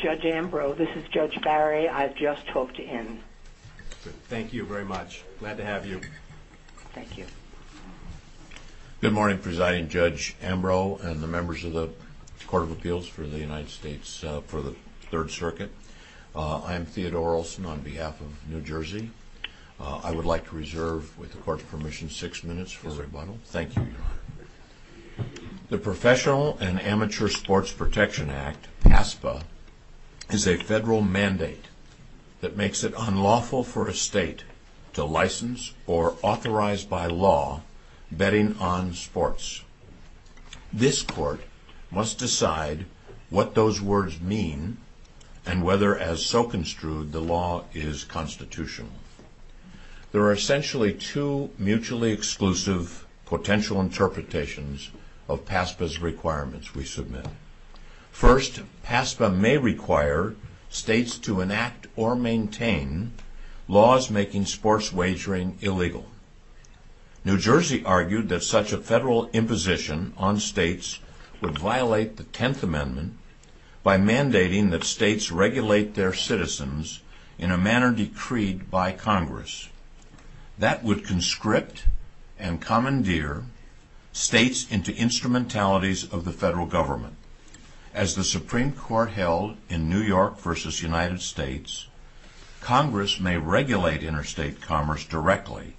Ambro. This is Judge Barry. I've just spoke to him. Thank you very much. Glad to have you. Thank you. Good morning, Presiding Judge Ambro and the members of the Court of Appeals for the United States for the Third Circuit. I'm Theodore Olson on behalf of New Jersey. I would like to reserve, with the court's permission, six minutes for rebuttal. Thank you. The Professional and Amateur Sports Protection Act, PASPA, is a federal mandate that makes it unlawful for a state to license or authorize by law betting on sports. This court must decide what those words mean and whether, as so construed, the law is constitutional. There are essentially two mutually exclusive potential interpretations of PASPA's requirements we submit. First, PASPA may require states to enact or maintain laws making sports wagering illegal. New Jersey argued that such a federal imposition on states would violate the Tenth Amendment by mandating that states regulate their citizens in a manner decreed by Congress. That would conscript and commandeer states into instrumentalities of the federal government. As the Supreme Court held in New York v. United States, Congress may regulate interstate commerce directly.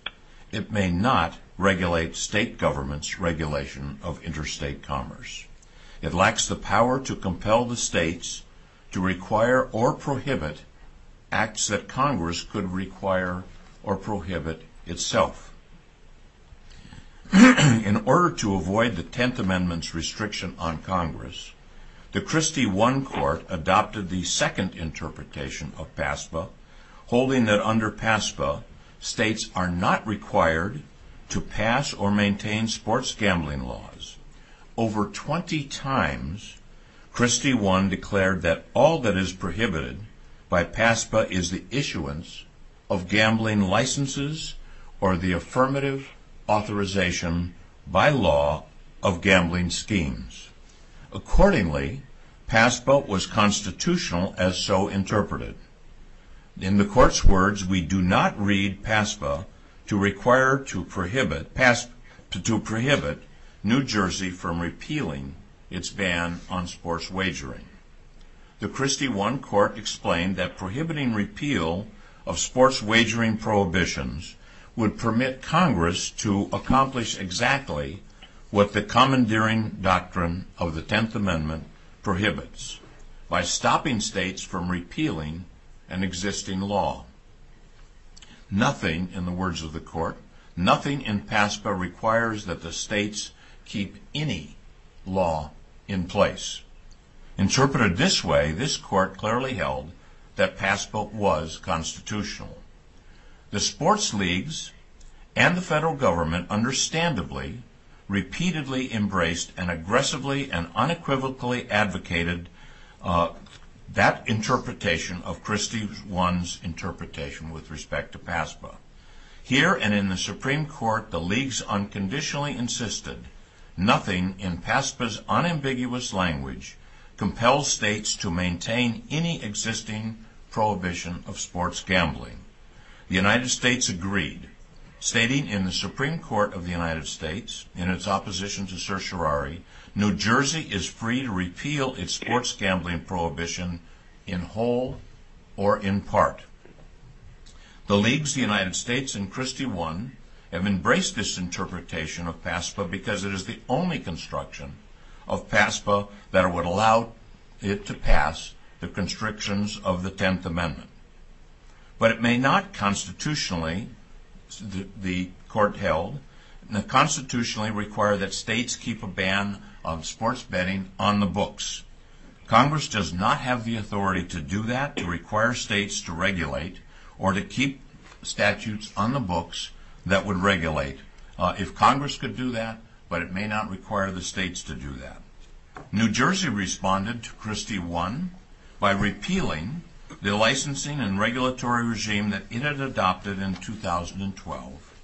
It may not regulate state governments' regulation of interstate commerce. It lacks the power to compel the states to require or prohibit acts that Congress could require or prohibit itself. In order to avoid the Tenth Amendment's restriction on Congress, the Christie I Court adopted the second interpretation of PASPA, holding that under PASPA, states are not required to pass or maintain sports gambling laws. Over 20 times, Christie I declared that all that is prohibited by PASPA is the issuance of gambling licenses or the affirmative authorization by law of gambling schemes. Accordingly, PASPA was constitutional as so interpreted. In the Court's words, we do not read PASPA to require to prohibit New Jersey from repealing its ban on sports wagering. The Christie I Court explained that prohibiting repeal of sports wagering prohibitions would permit Congress to accomplish exactly what the commandeering doctrine of the Tenth Amendment prohibits, by stopping states from repealing an existing law. Nothing, in the words of the Court, nothing in PASPA requires that the states keep any law in place. Interpreted this way, this Court clearly held that PASPA was constitutional. The sports leagues and the federal government understandably, repeatedly embraced and aggressively and unequivocally advocated that interpretation of Christie I's interpretation with respect to PASPA. Here and in the Supreme Court, the leagues unconditionally insisted, nothing in PASPA's unambiguous language compels states to maintain any existing prohibition of sports gambling. The United States agreed, stating in the Supreme Court of the United States, in its opposition to certiorari, New Jersey is free to repeal its sports gambling prohibition in whole or in part. The leagues of the United States and Christie I have embraced this interpretation of PASPA because it is the only construction of PASPA that would allow it to pass the constrictions of the Tenth Amendment. But it may not constitutionally, the Court held, constitutionally require that states keep a ban on sports betting on the books. Congress does not have the authority to do that, to require states to regulate or to keep statutes on the books that would regulate. If Congress could do that, but it may not require the states to do that. New Jersey responded to Christie I by repealing the licensing and regulatory regime that it had adopted in 2012,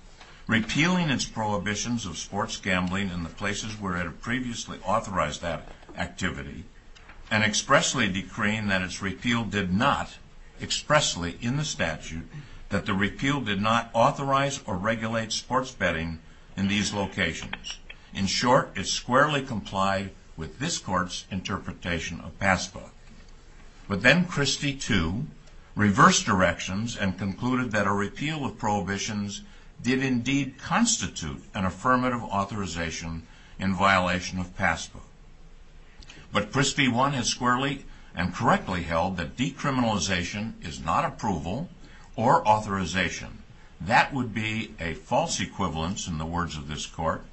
repealing its prohibitions of sports gambling in the places where it had previously authorized that activity, and expressly decreeing that its repeal did not, expressly in the statute, that the repeal did not authorize or regulate sports betting in these locations. In short, it squarely complied with this Court's interpretation of PASPA. But then Christie II reversed directions and concluded that a repeal of prohibitions did indeed constitute an affirmative authorization in violation of PASPA. But Christie I has squarely and correctly held that decriminalization is not approval or authorization. That would be a false equivalence in the words of this Court.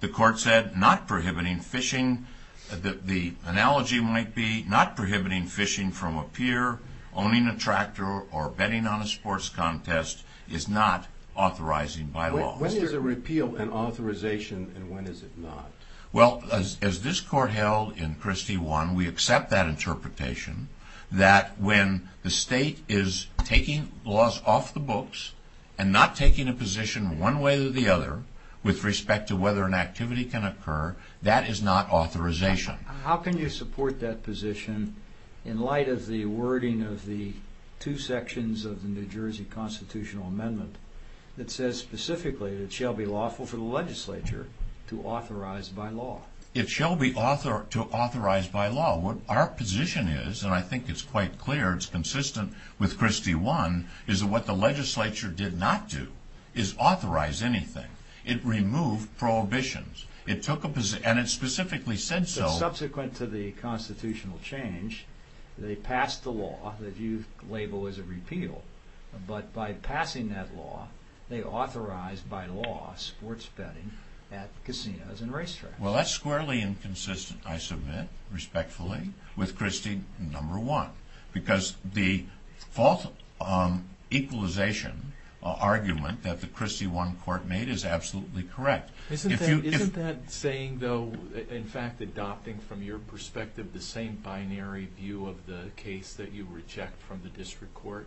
The Court said not prohibiting fishing, the analogy might be not prohibiting fishing from a pier, owning a tractor, or betting on a sports contest is not authorizing by law. When is a repeal an authorization and when is it not? Well, as this Court held in Christie I, we accept that interpretation that when the state is taking laws off the books and not taking a position one way or the other with respect to whether an activity can occur, that is not authorization. How can you support that position in light of the wording of the two sections of the New Jersey Constitutional Amendment that says specifically that it shall be lawful for the legislature to authorize by law? It shall be authorized by law. Our position is, and I think it's quite clear, it's consistent with Christie I, is that what the legislature did not do is authorize anything. It removed prohibitions. It took a position, and it specifically said so. Subsequent to the constitutional change, they passed the law that you label as a repeal. But by passing that law, they authorized by law sports betting at casinos and racetracks. Well, that's squarely inconsistent, I submit, respectfully, with Christie I, because the false equalization argument that the Christie I Court made is absolutely correct. Isn't that saying, though, in fact adopting from your perspective the same binary view of the case that you were checked from the district court?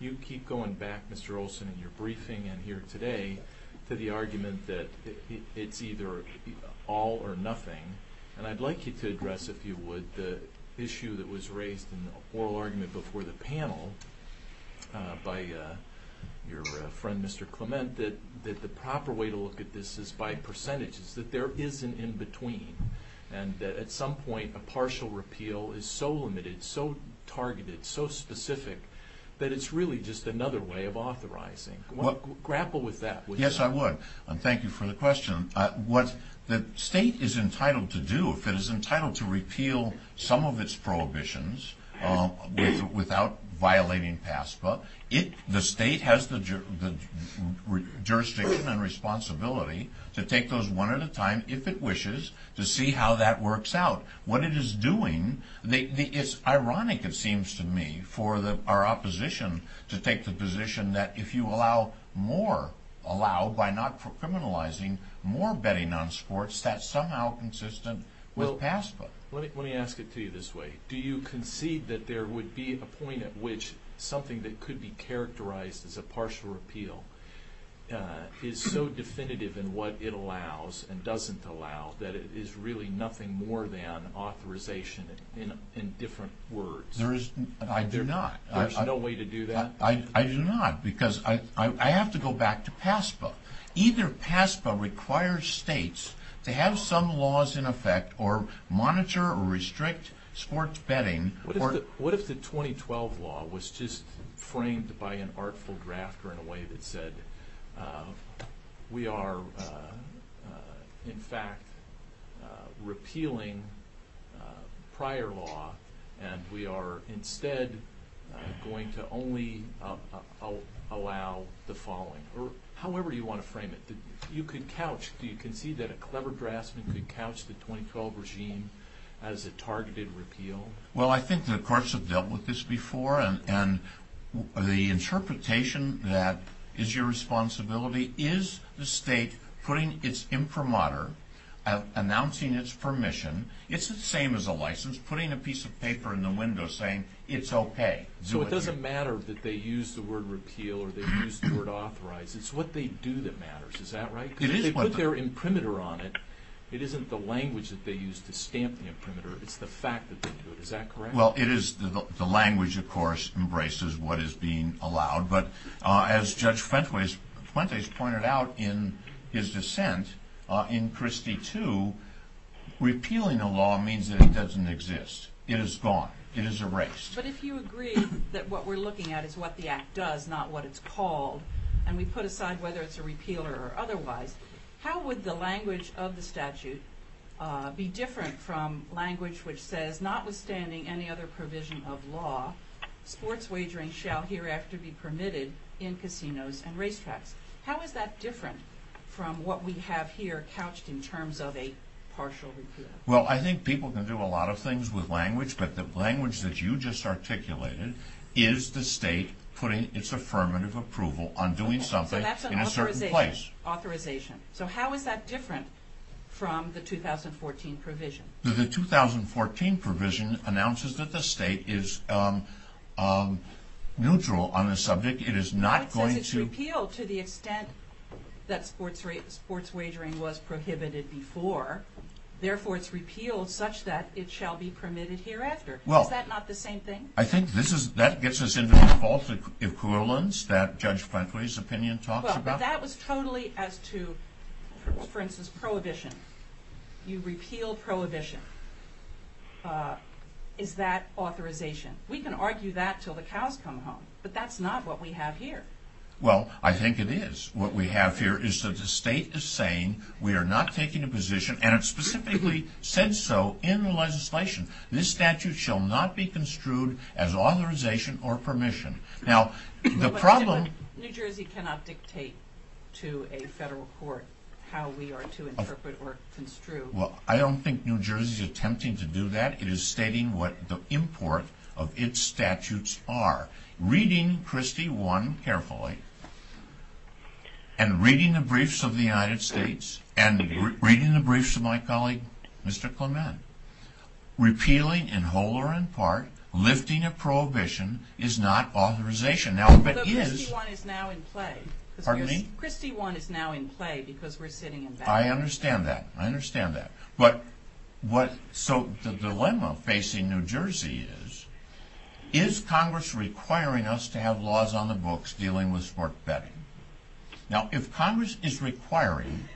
You keep going back, Mr. Olson, in your briefing and here today to the argument that it's either all or nothing. And I'd like you to address, if you would, the issue that was raised in the oral argument before the panel by your friend, Mr. Clement, that the proper way to look at this is by percentages, that there is an in-between, and that at some point a partial repeal is so limited, so targeted, so specific, that it's really just another way of authorizing. Grapple with that. Yes, I would. And thank you for the question. What the state is entitled to do, if it is entitled to repeal some of its prohibitions without violating PASPA, the state has the jurisdiction and responsibility to take those one at a time, if it wishes, to see how that works out. What it is doing, it's ironic, it seems to me, for our opposition to take the position that if you allow more, allow by not criminalizing more betting on sports, that's somehow consistent with PASPA. Let me ask it to you this way. Do you concede that there would be a point at which something that could be characterized as a partial repeal is so definitive in what it allows and doesn't allow that it is really nothing more than authorization in different words? I do not. There's no way to do that? I do not, because I have to go back to PASPA. Either PASPA requires states to have some laws in effect or monitor or restrict sports betting. What if the 2012 law was just framed by an artful drafter in a way that said, we are, in fact, repealing prior law and we are instead going to only allow the following? However you want to frame it. Do you concede that a clever draftsman could couch the 2012 regime as a targeted repeal? Well, I think the courts have dealt with this before and the interpretation that is your responsibility is the state putting its imprimatur, announcing its permission, it's the same as a license, putting a piece of paper in the window saying it's okay. So it doesn't matter that they use the word repeal or they use the word authorize. It's what they do that matters. Is that right? They put their imprimatur on it. It isn't the language that they use to stamp the imprimatur. It's the fact that they do it. Is that correct? Well, the language, of course, embraces what is being allowed. But as Judge Fuentes pointed out in his dissent in Christie II, repealing a law means that it doesn't exist. It is gone. It is erased. But if you agree that what we're looking at is what the act does, not what it's called, and we put aside whether it's a repeal or otherwise, how would the language of the statute be different from language which says, notwithstanding any other provision of law, force wagering shall hereafter be permitted in casinos and racetracks. How is that different from what we have here couched in terms of a partial repeal? Well, I think people can do a lot of things with language, but the language that you just articulated is the state putting its affirmative approval on doing something in a certain place. That's an authorization. So how is that different from the 2014 provision? The 2014 provision announces that the state is neutral on the subject. It is not going to. It's repealed to the extent that force wagering was prohibited before. Therefore, it's repealed such that it shall be permitted hereafter. Is that not the same thing? I think that gets us into the false equivalence that Judge Plankley's opinion talks about. Well, that was totally as to, for instance, prohibition. You repeal prohibition. Is that authorization? We can argue that until the cows come home, but that's not what we have here. Well, I think it is. What we have here is that the state is saying we are not taking a position, and it specifically said so in the legislation. This statute shall not be construed as authorization or permission. Now, the problem- New Jersey cannot dictate to a federal court how we are to interpret or construe. Well, I don't think New Jersey is attempting to do that. It is stating what the import of its statutes are. Reading Christie I carefully and reading the briefs of the United States and reading the briefs of my colleague, Mr. Clement, repealing in whole or in part lifting of prohibition is not authorization. So Christie I is now in play. Pardon me? Christie I is now in play because we're sitting in back. I understand that. I understand that. So the dilemma facing New Jersey is, is Congress requiring us to have laws on the books dealing with sports betting? Now, if Congress is requiring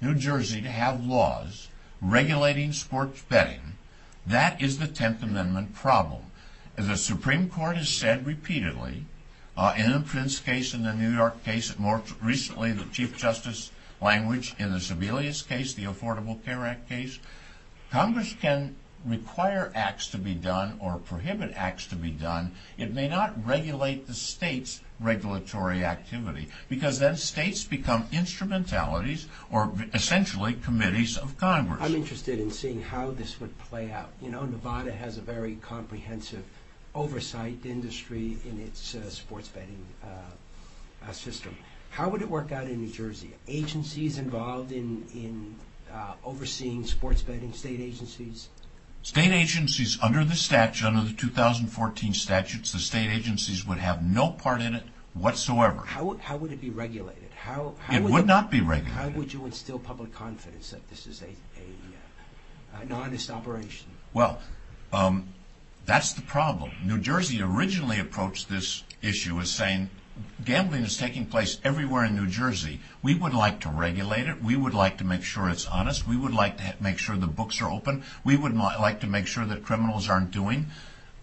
New Jersey to have laws regulating sports betting, that is the Tenth Amendment problem. As the Supreme Court has said repeatedly, in the Prince case and the New York case, and more recently the Chief Justice language in the Sebelius case, the Affordable Care Act case, Congress can require acts to be done or prohibit acts to be done. It may not regulate the state's regulatory activity because then states become instrumentalities or essentially committees of Congress. I'm interested in seeing how this would play out. You know, Nevada has a very comprehensive oversight industry in its sports betting system. How would it work out in New Jersey? Agencies involved in overseeing sports betting, state agencies? State agencies under the 2014 statutes, the state agencies would have no part in it whatsoever. How would it be regulated? It would not be regulated. How would you instill public confidence that this is an honest operation? Well, that's the problem. New Jersey originally approached this issue as saying, gambling is taking place everywhere in New Jersey. We would like to regulate it. We would like to make sure it's honest. We would like to make sure the books are open. We would like to make sure that criminals aren't doing.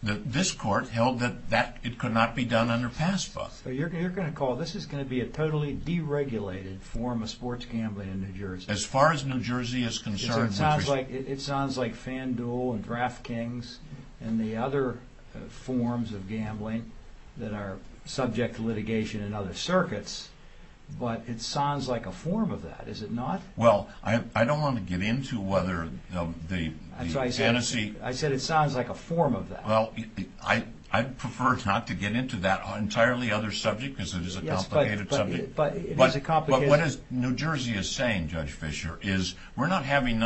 This court held that it could not be done under FASFA. You're going to call this is going to be a totally deregulated form of sports gambling in New Jersey. As far as New Jersey is concerned. It sounds like FanDuel and DraftKings and the other forms of gambling that are subject to litigation in other circuits, but it sounds like a form of that. Is it not? Well, I don't want to get into whether the Tennessee. I said it sounds like a form of that. Well, I prefer not to get into that entirely other subject because it is a complicated subject. But what New Jersey is saying, Judge Fisher, is we're not having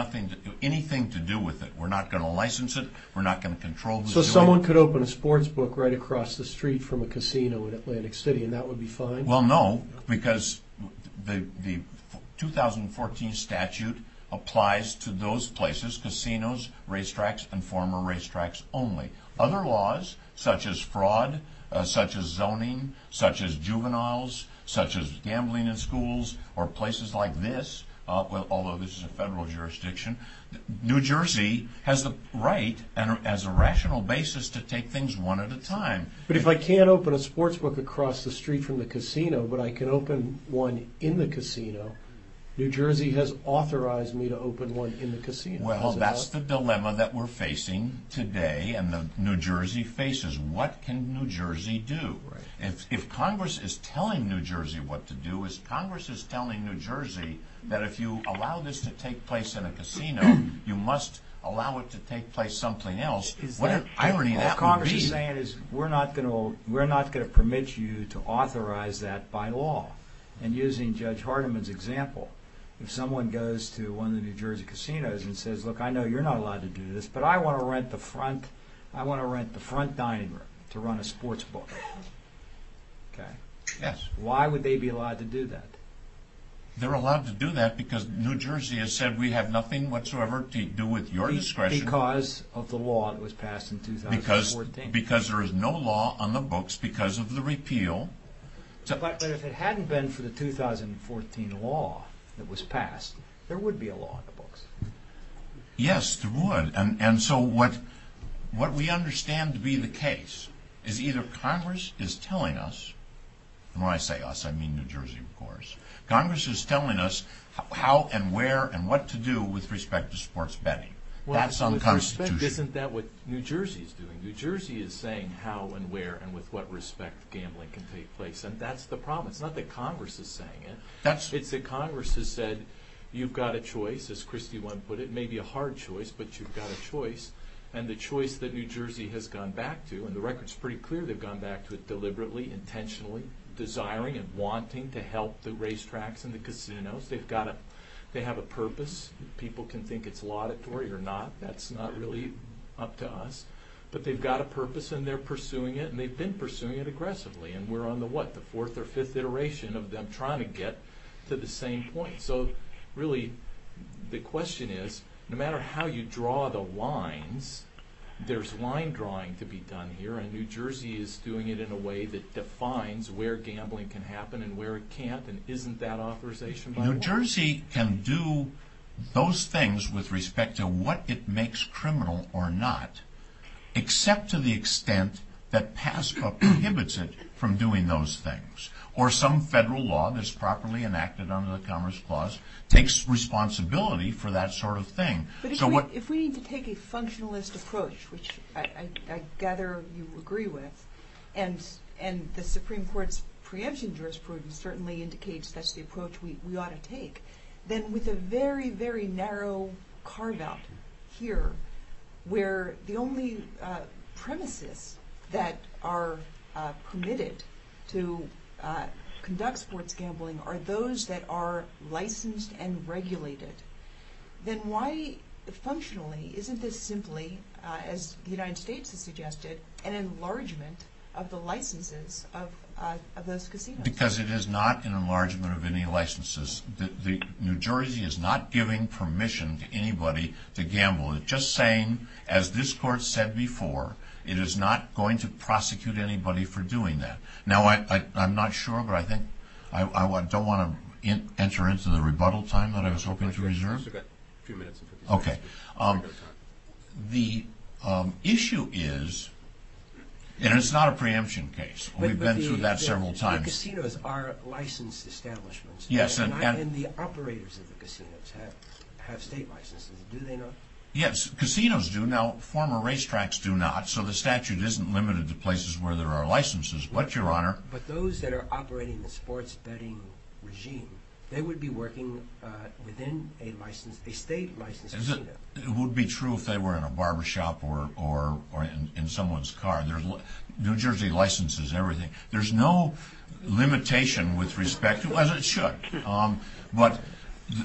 anything to do with it. We're not going to license it. We're not going to control the situation. So someone could open a sports book right across the street from a casino in Atlantic City, and that would be fine? Well, no, because the 2014 statute applies to those places, casinos, racetracks, and former racetracks only. Other laws, such as fraud, such as zoning, such as juveniles, such as gambling in schools, or places like this, although this is a federal jurisdiction, New Jersey has the right as a rational basis to take things one at a time. But if I can't open a sports book across the street from the casino, but I can open one in the casino, New Jersey has authorized me to open one in the casino. Well, that's the dilemma that we're facing today and that New Jersey faces. What can New Jersey do? If Congress is telling New Jersey what to do, if Congress is telling New Jersey that if you allow this to take place in a casino, you must allow it to take place somewhere else, what an irony that would be. What Congress is saying is we're not going to permit you to authorize that by law. And using Judge Hardeman's example, if someone goes to one of the New Jersey casinos and says, look, I know you're not allowed to do this, but I want to rent the front dining room to run a sports book. Okay? Yes. Why would they be allowed to do that? They're allowed to do that because New Jersey has said we have nothing whatsoever to do with your discretion. Because of the law that was passed in 2014. Because there is no law on the books because of the repeal. But if it hadn't been for the 2014 law that was passed, there would be a law on the books. Yes, there would. And so what we understand to be the case is either Congress is telling us, and when I say us, I mean New Jersey, of course, Congress is telling us how and where and what to do with respect to sports betting. That's unconstitutional. Isn't that what New Jersey is doing? New Jersey is saying how and where and with what respect gambling can take place. And that's the problem. It's not that Congress is saying it. It's that Congress has said you've got a choice, as Christy one put it. It may be a hard choice, but you've got a choice. And the choice that New Jersey has gone back to, and the record is pretty clear they've gone back to it deliberately, intentionally, desiring and wanting to help the racetracks and the casinos. They have a purpose. People can think it's laudatory or not. That's not really up to us. But they've got a purpose, and they're pursuing it, and they've been pursuing it aggressively. And we're on the, what, the fourth or fifth iteration of them trying to get to the same point. So, really, the question is, no matter how you draw the lines, there's line drawing to be done here, and New Jersey is doing it in a way that defines where gambling can happen New Jersey can do those things with respect to what it makes criminal or not, except to the extent that PASCA prohibits it from doing those things. Or some federal law that's properly enacted under the Commerce Clause takes responsibility for that sort of thing. If we need to take a functionalist approach, which I gather you agree with, and the Supreme Court's preemption jurisprudence certainly indicates that's the approach we ought to take, then with a very, very narrow carve-out here, where the only premises that are permitted to conduct sports gambling are those that are licensed and regulated, then why, functionally, isn't this simply, as the United States has suggested, an enlargement of the licenses of those casinos? Because it is not an enlargement of any licenses. New Jersey is not giving permission to anybody to gamble with it. Just saying, as this Court said before, it is not going to prosecute anybody for doing that. Now, I'm not sure, but I don't want to enter into the rebuttal time that I was hoping to reserve. Okay. The issue is, and it's not a preemption case. We've been through that several times. But the casinos are licensed establishments. Yes. And the operators of the casinos have state licenses. Do they not? Yes, casinos do. Now, former racetracks do not, so the statute isn't limited to places where there are licenses. But, Your Honor— But those that are operating the sports betting regime, they would be working within a state-licensed casino. It would be true if they were in a barbershop or in someone's car. New Jersey licenses everything. There's no limitation with respect to—as it should. But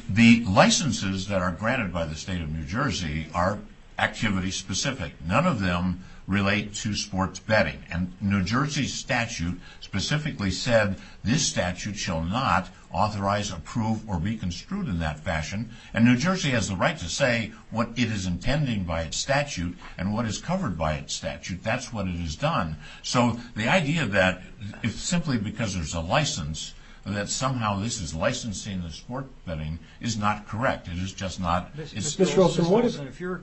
the licenses that are granted by the state of New Jersey are activity-specific. None of them relate to sports betting. And New Jersey's statute specifically said, this statute shall not authorize, approve, or be construed in that fashion. And New Jersey has the right to say what it is intending by its statute and what is covered by its statute. That's what it has done. So the idea that it's simply because there's a license and that somehow this is licensing the sports betting is not correct. It is just not— Mr. Wilson, what if— If you're—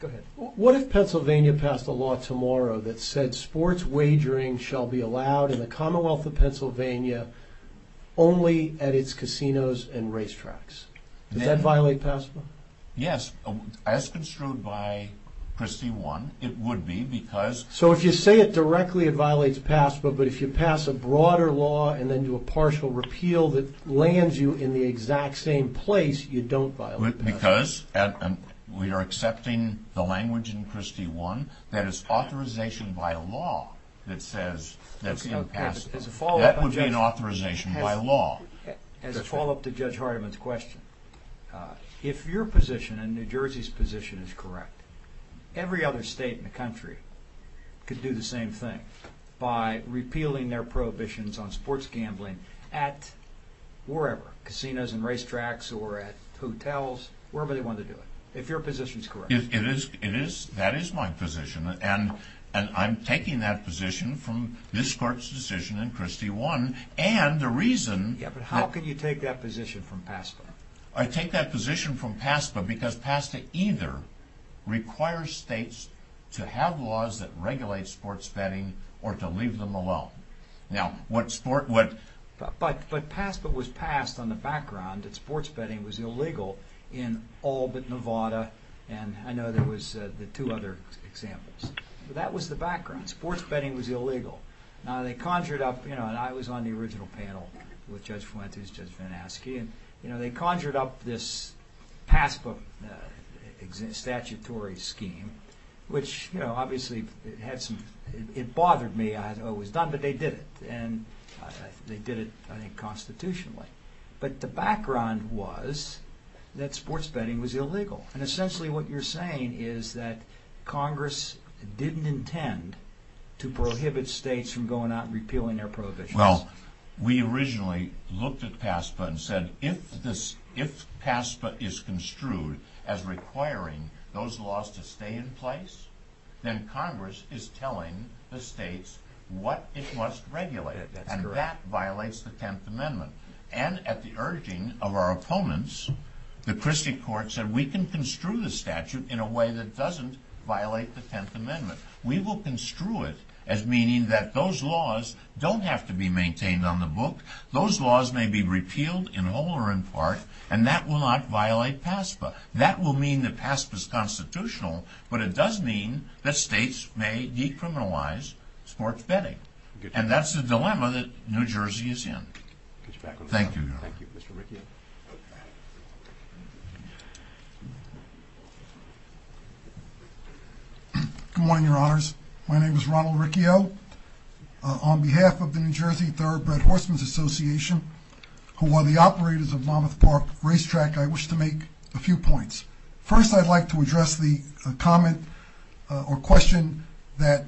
Go ahead. What if Pennsylvania passed a law tomorrow that said sports wagering shall be allowed in the Commonwealth of Pennsylvania only at its casinos and racetracks? Does that violate past law? Yes. As construed by Christie 1, it would be because— So if you say it directly, it violates past law. But if you pass a broader law and then do a partial repeal that lands you in the exact same place, you don't violate past law. Because we are accepting the language in Christie 1 that is authorization by law that says— That would be an authorization by law. As a follow-up to Judge Hardiman's question, if your position and New Jersey's position is correct, every other state in the country could do the same thing by repealing their prohibitions on sports gambling at wherever, casinos and racetracks or at hotels, wherever they want to do it, if your position is correct. It is. That is my position. And I'm taking that position from Ms. Clark's decision in Christie 1. And the reason— Yeah, but how could you take that position from PASPA? I take that position from PASPA because PASPA either requires states to have laws that regulate sports betting or to leave them alone. Now, what sport— But PASPA was passed on the background that sports betting was illegal in all but Nevada. And I know there was the two other examples. But that was the background. Sports betting was illegal. Now, they conjured up—you know, and I was on the original panel with Judge Fuentes, Judge Van Aske, and, you know, they conjured up this PASPA statutory scheme, which, you know, obviously it had some—it bothered me. I had always done it, but they did it. And they did it, I think, constitutionally. But the background was that sports betting was illegal. And essentially what you're saying is that Congress didn't intend to prohibit states from going out and repealing their prohibitions. Well, we originally looked at PASPA and said, if PASPA is construed as requiring those laws to stay in place, then Congress is telling the states what it must regulate. And that violates the Tenth Amendment. And at the urging of our opponents, the Christie Court said, we can construe the statute in a way that doesn't violate the Tenth Amendment. We will construe it as meaning that those laws don't have to be maintained on the book. Those laws may be repealed in whole or in part, and that will not violate PASPA. That will mean that PASPA is constitutional, but it does mean that states may decriminalize sports betting. And that's the dilemma that New Jersey is in. Thank you. Thank you, Mr. McNeil. Good morning, Your Honors. My name is Ronald Riccio. On behalf of the New Jersey Thoroughbred Horsemen's Association, who are the operators of Monmouth Park Racetrack, I wish to make a few points. First, I'd like to address the comment or question that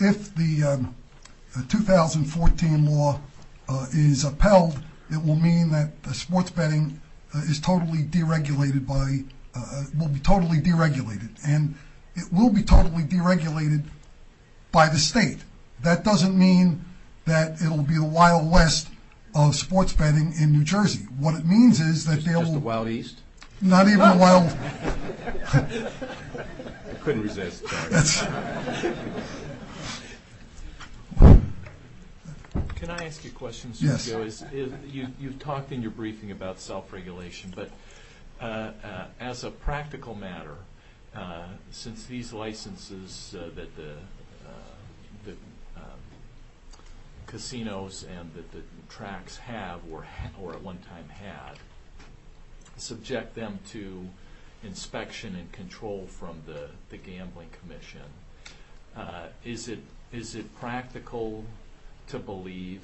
if the 2014 law is upheld, it will mean that sports betting will be totally deregulated, and it will be totally deregulated by the state. That doesn't mean that it will be the Wild West of sports betting in New Jersey. What it means is that there will be… Just the Wild East? Not even the Wild… I couldn't resist. Sorry. Can I ask you a question? Yes. You've talked in your briefing about self-regulation, but as a practical matter, since these licenses that the casinos and that the tracks have or at one time had, subject them to inspection and control from the gambling commission, is it practical to believe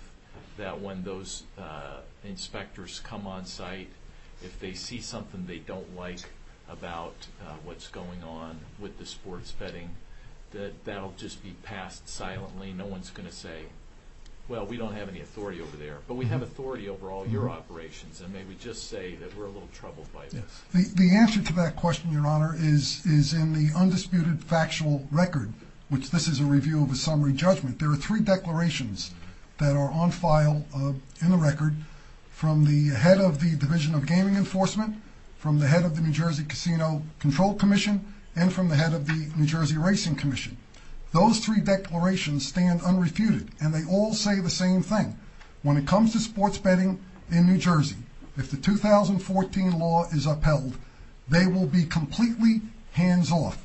that when those inspectors come on site, if they see something they don't like about what's going on with the sports betting, that that will just be passed silently? No one's going to say, well, we don't have any authority over there. But we have authority over all your operations. And may we just say that we're a little troubled by this? The answer to that question, Your Honor, is in the undisputed factual record, which this is a review of a summary judgment. There are three declarations that are on file in the record from the head of the Division of Gaming Enforcement, from the head of the New Jersey Casino Control Commission, and from the head of the New Jersey Racing Commission. Those three declarations stand unrefuted, and they all say the same thing. When it comes to sports betting in New Jersey, if the 2014 law is upheld, they will be completely hands-off.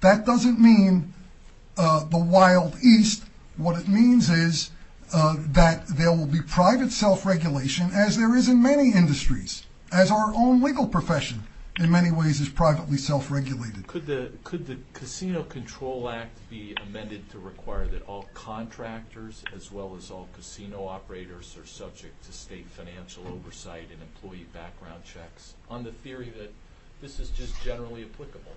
That doesn't mean the Wild East. What it means is that there will be private self-regulation, as there is in many industries, as our own legal profession, in many ways, is privately self-regulated. Could the Casino Control Act be amended to require that all contractors, as well as all casino operators, are subject to state financial oversight and employee background checks, on the theory that this is just generally applicable?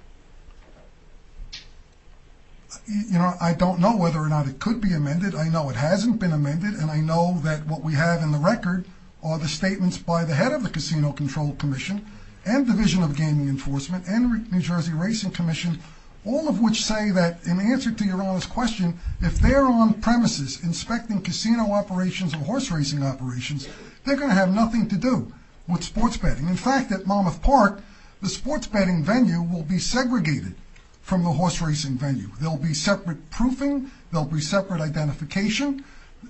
Your Honor, I don't know whether or not it could be amended. I know it hasn't been amended, and I know that what we have in the record are the statements by the head of the Casino Control Commission and Division of Gaming Enforcement and New Jersey Racing Commission, all of which say that, in answer to Your Honor's question, if they're on premises inspecting casino operations or horse racing operations, they're going to have nothing to do with sports betting. In fact, at Monmouth Park, the sports betting venue will be segregated from the horse racing venue. There will be separate proofing. There will be separate identification.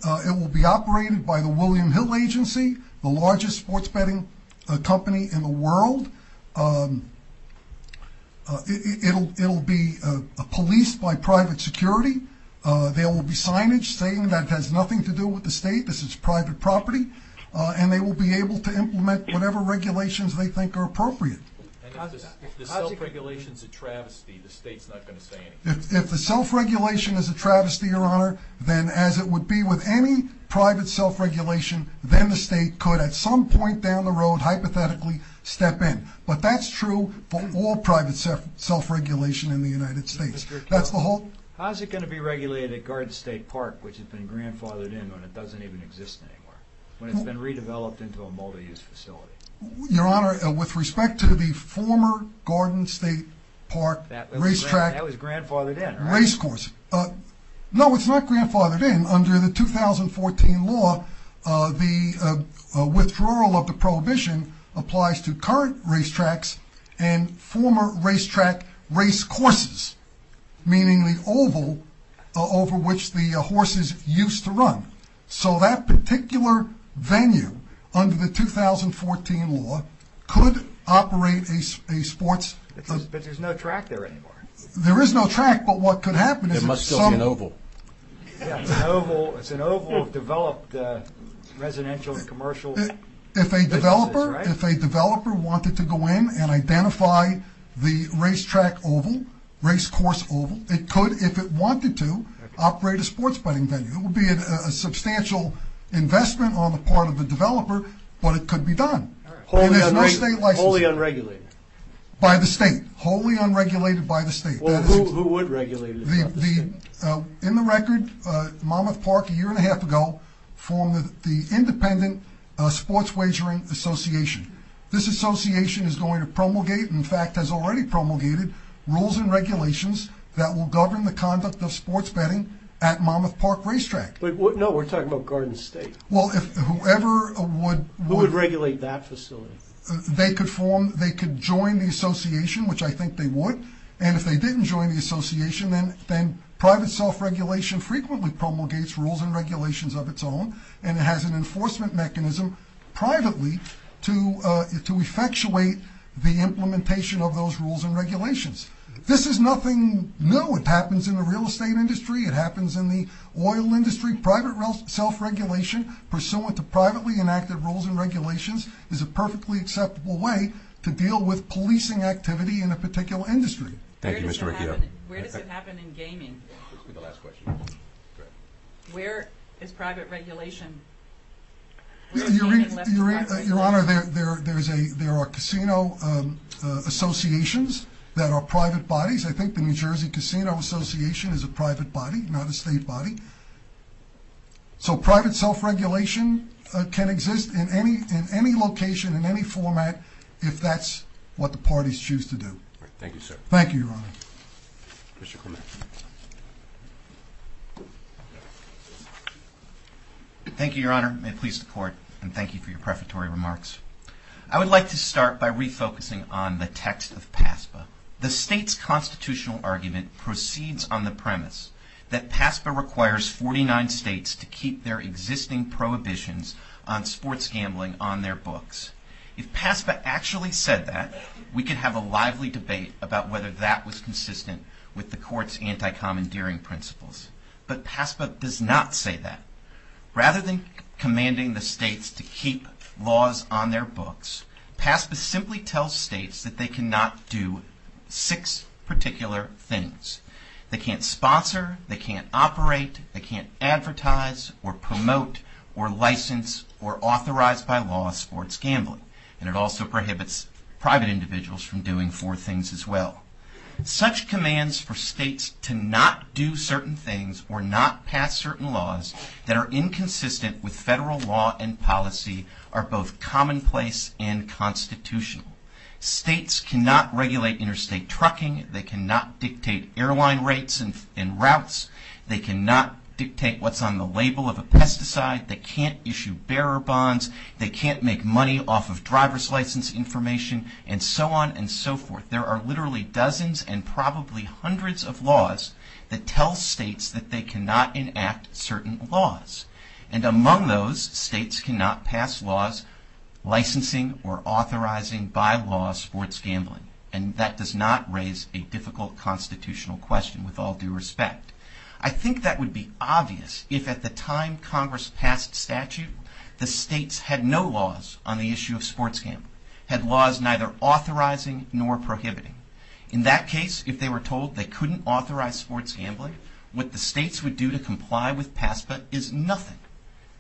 It will be operated by the William Hill Agency, the largest sports betting company in the world. It will be policed by private security. There will be signage saying that has nothing to do with the state. This is private property. And they will be able to implement whatever regulations they think are appropriate. If the self-regulation is a travesty, the state's not going to say anything? If the self-regulation is a travesty, Your Honor, then as it would be with any private self-regulation, then the state could at some point down the road hypothetically step in. But that's true for all private self-regulation in the United States. How's it going to be regulated at Garden State Park, which has been grandfathered in when it doesn't even exist anymore, when it's been redeveloped into a multi-use facility? Your Honor, with respect to the former Garden State Park racetrack racecourse. That was grandfathered in, right? No, it's not grandfathered in. Under the 2014 law, the withdrawal of the prohibition applies to current racetracks and former racetrack racecourses, meaning the oval over which the horses used to run. So that particular venue under the 2014 law could operate a sports... But there's no track there anymore. There is no track, but what could happen is... There must still be an oval. It's an oval developed residential and commercial... If a developer wanted to go in and identify the racetrack oval, racecourse oval, it could, if it wanted to, operate a sports betting venue. It would be a substantial investment on the part of the developer, but it could be done. Wholly unregulated. By the state. Wholly unregulated by the state. Well, who would regulate it? In the record, Monmouth Park, a year and a half ago, formed the Independent Sports Wagering Association. This association is going to promulgate, in fact has already promulgated, rules and regulations that will govern the conduct of sports betting at Monmouth Park racetrack. No, we're talking about Garden State. Well, whoever would... Who would regulate that facility? They could form, they could join the association, which I think they would, and if they didn't join the association, then private self-regulation frequently promulgates rules and regulations of its own, and it has an enforcement mechanism, privately, to effectuate the implementation of those rules and regulations. This is nothing new. It happens in the real estate industry. It happens in the oil industry. It's a perfectly acceptable way to deal with policing activity in a particular industry. Thank you, Mr. Ricciardo. Where does it happen in gaming? Where is private regulation? Your Honor, there are casino associations that are private bodies. I think the New Jersey Casino Association is a private body, not a state body. So private self-regulation can exist in any location, in any format, if that's what the parties choose to do. Thank you, sir. Thank you, Your Honor. Thank you, Your Honor. May it please the Court, and thank you for your prefatory remarks. I would like to start by refocusing on the text of PASPA. The state's constitutional argument proceeds on the premise that PASPA requires 49 states to keep their existing prohibitions on sports gambling on their books. If PASPA actually said that, we could have a lively debate about whether that was consistent with the Court's anti-commandeering principles. But PASPA does not say that. Rather than commanding the states to keep laws on their books, PASPA simply tells states that they cannot do six particular things. They can't sponsor, they can't operate, they can't advertise or promote or license or authorize by law sports gambling. And it also prohibits private individuals from doing four things as well. Such commands for states to not do certain things or not pass certain laws that are inconsistent with federal law and policy are both commonplace and constitutional. States cannot regulate interstate trucking. They cannot dictate airline rates and routes. They cannot dictate what's on the label of a pesticide. They can't issue bearer bonds. They can't make money off of driver's license information, and so on and so forth. There are literally dozens and probably hundreds of laws that tell states that they cannot enact certain laws. And among those, states cannot pass laws licensing or authorizing by law sports gambling. And that does not raise a difficult constitutional question with all due respect. I think that would be obvious if at the time Congress passed statute, the states had no laws on the issue of sports gambling. They had laws neither authorizing nor prohibiting. In that case, if they were told they couldn't authorize sports gambling, what the states would do to comply with PASPA is nothing.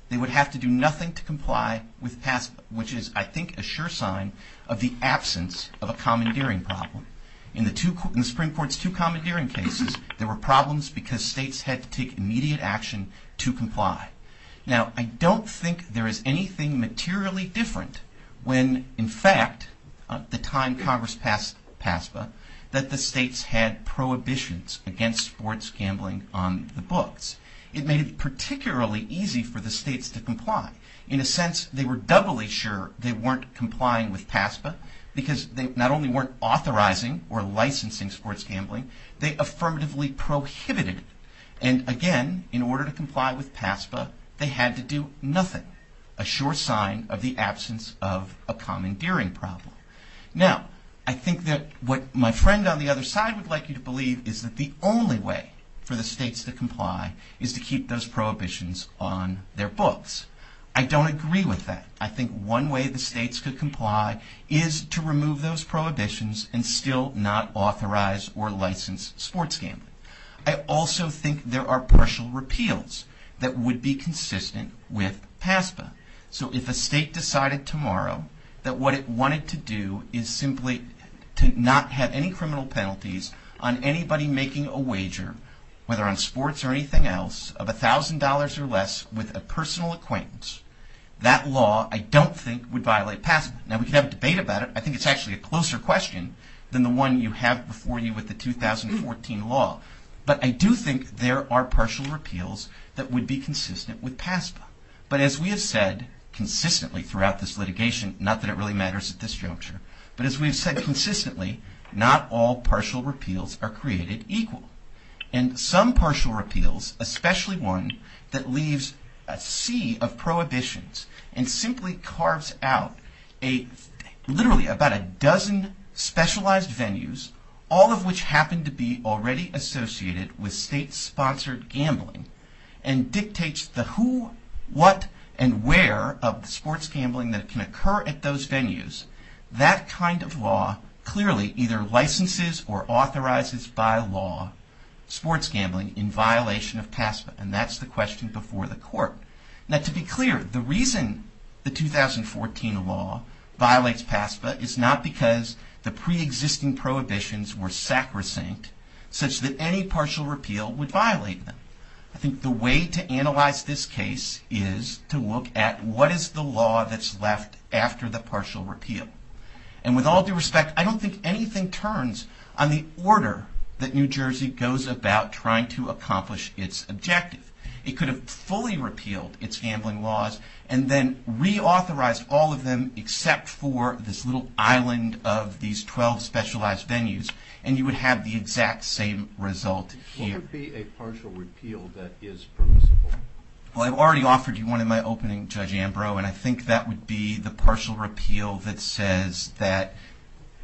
They would have to do nothing to comply with PASPA, which is, I think, a sure sign of the absence of a commandeering problem. In the Supreme Court's two commandeering cases, there were problems because states had to take immediate action to comply. Now, I don't think there is anything materially different when, in fact, at the time Congress passed PASPA, that the states had prohibitions against sports gambling on the books. It made it particularly easy for the states to comply. In a sense, they were doubly sure they weren't complying with PASPA because they not only weren't authorizing or licensing sports gambling, they affirmatively prohibited it. And again, in order to comply with PASPA, they had to do nothing, a sure sign of the absence of a commandeering problem. Now, I think that what my friend on the other side would like you to believe is that the only way for the states to comply is to keep those prohibitions on their books. I don't agree with that. I think one way the states could comply is to remove those prohibitions and still not authorize or license sports gambling. I also think there are partial repeals that would be consistent with PASPA. So if a state decided tomorrow that what it wanted to do is simply to not have any criminal penalties on anybody making a wager, whether on sports or anything else, of $1,000 or less with a personal acquaintance, that law, I don't think, would violate PASPA. Now, we could have a debate about it. I think it's actually a closer question than the one you have before you with the 2014 law. But I do think there are partial repeals that would be consistent with PASPA. But as we have said consistently throughout this litigation, not that it really matters at this juncture, but as we have said consistently, not all partial repeals are created equal. And some partial repeals, especially one that leaves a sea of prohibitions and simply carves out literally about a dozen specialized venues, all of which happen to be already associated with state-sponsored gambling and dictates the who, what, and where of the sports gambling that can occur at those venues, that kind of law clearly either licenses or authorizes by law sports gambling in violation of PASPA. And that's the question before the court. Now, to be clear, the reason the 2014 law violates PASPA is not because the preexisting prohibitions were sacrosanct such that any partial repeal would violate them. I think the way to analyze this case is to look at what is the law that's left after the partial repeal. And with all due respect, I don't think anything turns on the order that New Jersey goes about trying to accomplish its objective. It could have fully repealed its gambling laws and then reauthorized all of them except for this little island of these 12 specialized venues, and you would have the exact same result here. What would be a partial repeal that is permissible? Well, I've already offered you one in my opening, Judge Ambrose, and I think that would be the partial repeal that says that,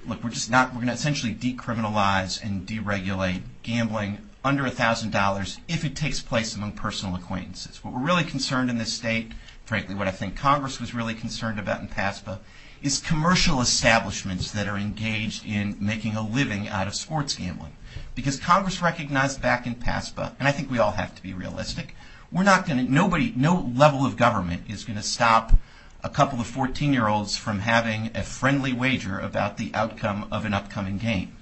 look, we're going to essentially decriminalize and deregulate gambling under $1,000 if it takes place among personal acquaintances. What we're really concerned in this state, frankly what I think Congress was really concerned about in PASPA, is commercial establishments that are engaged in making a living out of sports gambling. Because Congress recognized back in PASPA, and I think we all have to be realistic, no level of government is going to stop a couple of 14-year-olds from having a friendly wager about the outcome of an upcoming game.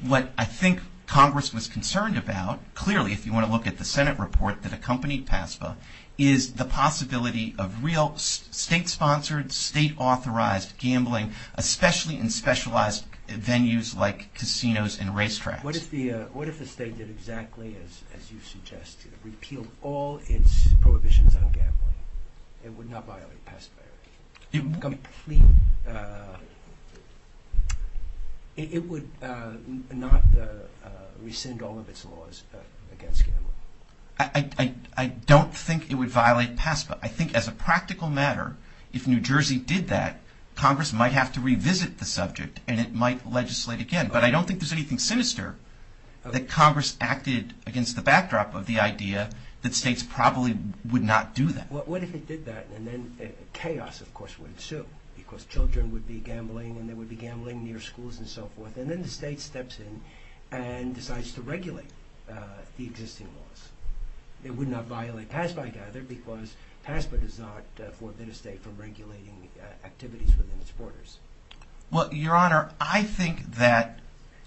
What I think Congress was concerned about, clearly if you want to look at the Senate report that accompanied PASPA, is the possibility of real state-sponsored, state-authorized gambling, especially in specialized venues like casinos and racetracks. What if the state did exactly as you suggest, repeal all its prohibitions on gambling? It would not violate PASPA. It would not rescind all of its laws against gambling. I don't think it would violate PASPA. I think as a practical matter, if New Jersey did that, Congress might have to revisit the subject, and it might legislate again. But I don't think there's anything sinister that Congress acted against the backdrop of the idea that states probably would not do that. What if it did that, and then chaos of course would ensue? Because children would be gambling, and they would be gambling near schools and so forth, and then the state steps in and decides to regulate the existing laws. It would not violate PASPA either, because PASPA does not forbid a state from regulating activities within its borders. Well, Your Honor, I think that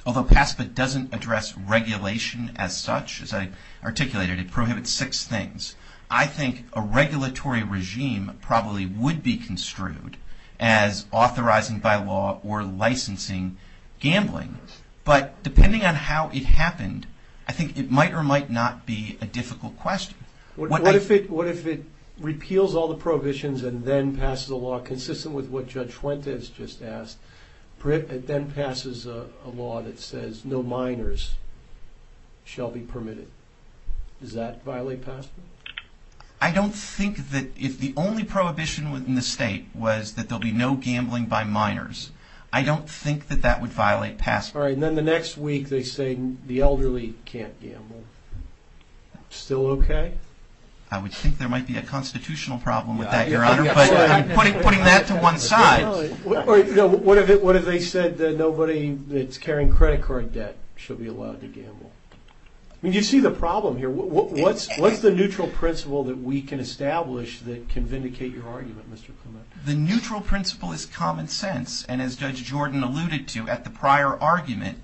although PASPA doesn't address regulation as such, as I articulated, it prohibits six things. I think a regulatory regime probably would be construed as authorizing by law or licensing gambling. But depending on how it happened, I think it might or might not be a difficult question. What if it repeals all the prohibitions and then passes a law consistent with what Judge Fuentes just asked, and then passes a law that says no minors shall be permitted? Does that violate PASPA? I don't think that if the only prohibition within the state was that there will be no gambling by minors, I don't think that that would violate PASPA. All right, and then the next week they say the elderly can't gamble. Still okay? I would think there might be a constitutional problem with that, Your Honor, but I'm putting that to one side. What if they said that nobody that's carrying credit card debt shall be allowed to gamble? I mean, you see the problem here. What's the neutral principle that we can establish that can vindicate your argument, Mr. Clement? The neutral principle is common sense, and as Judge Jordan alluded to at the prior argument,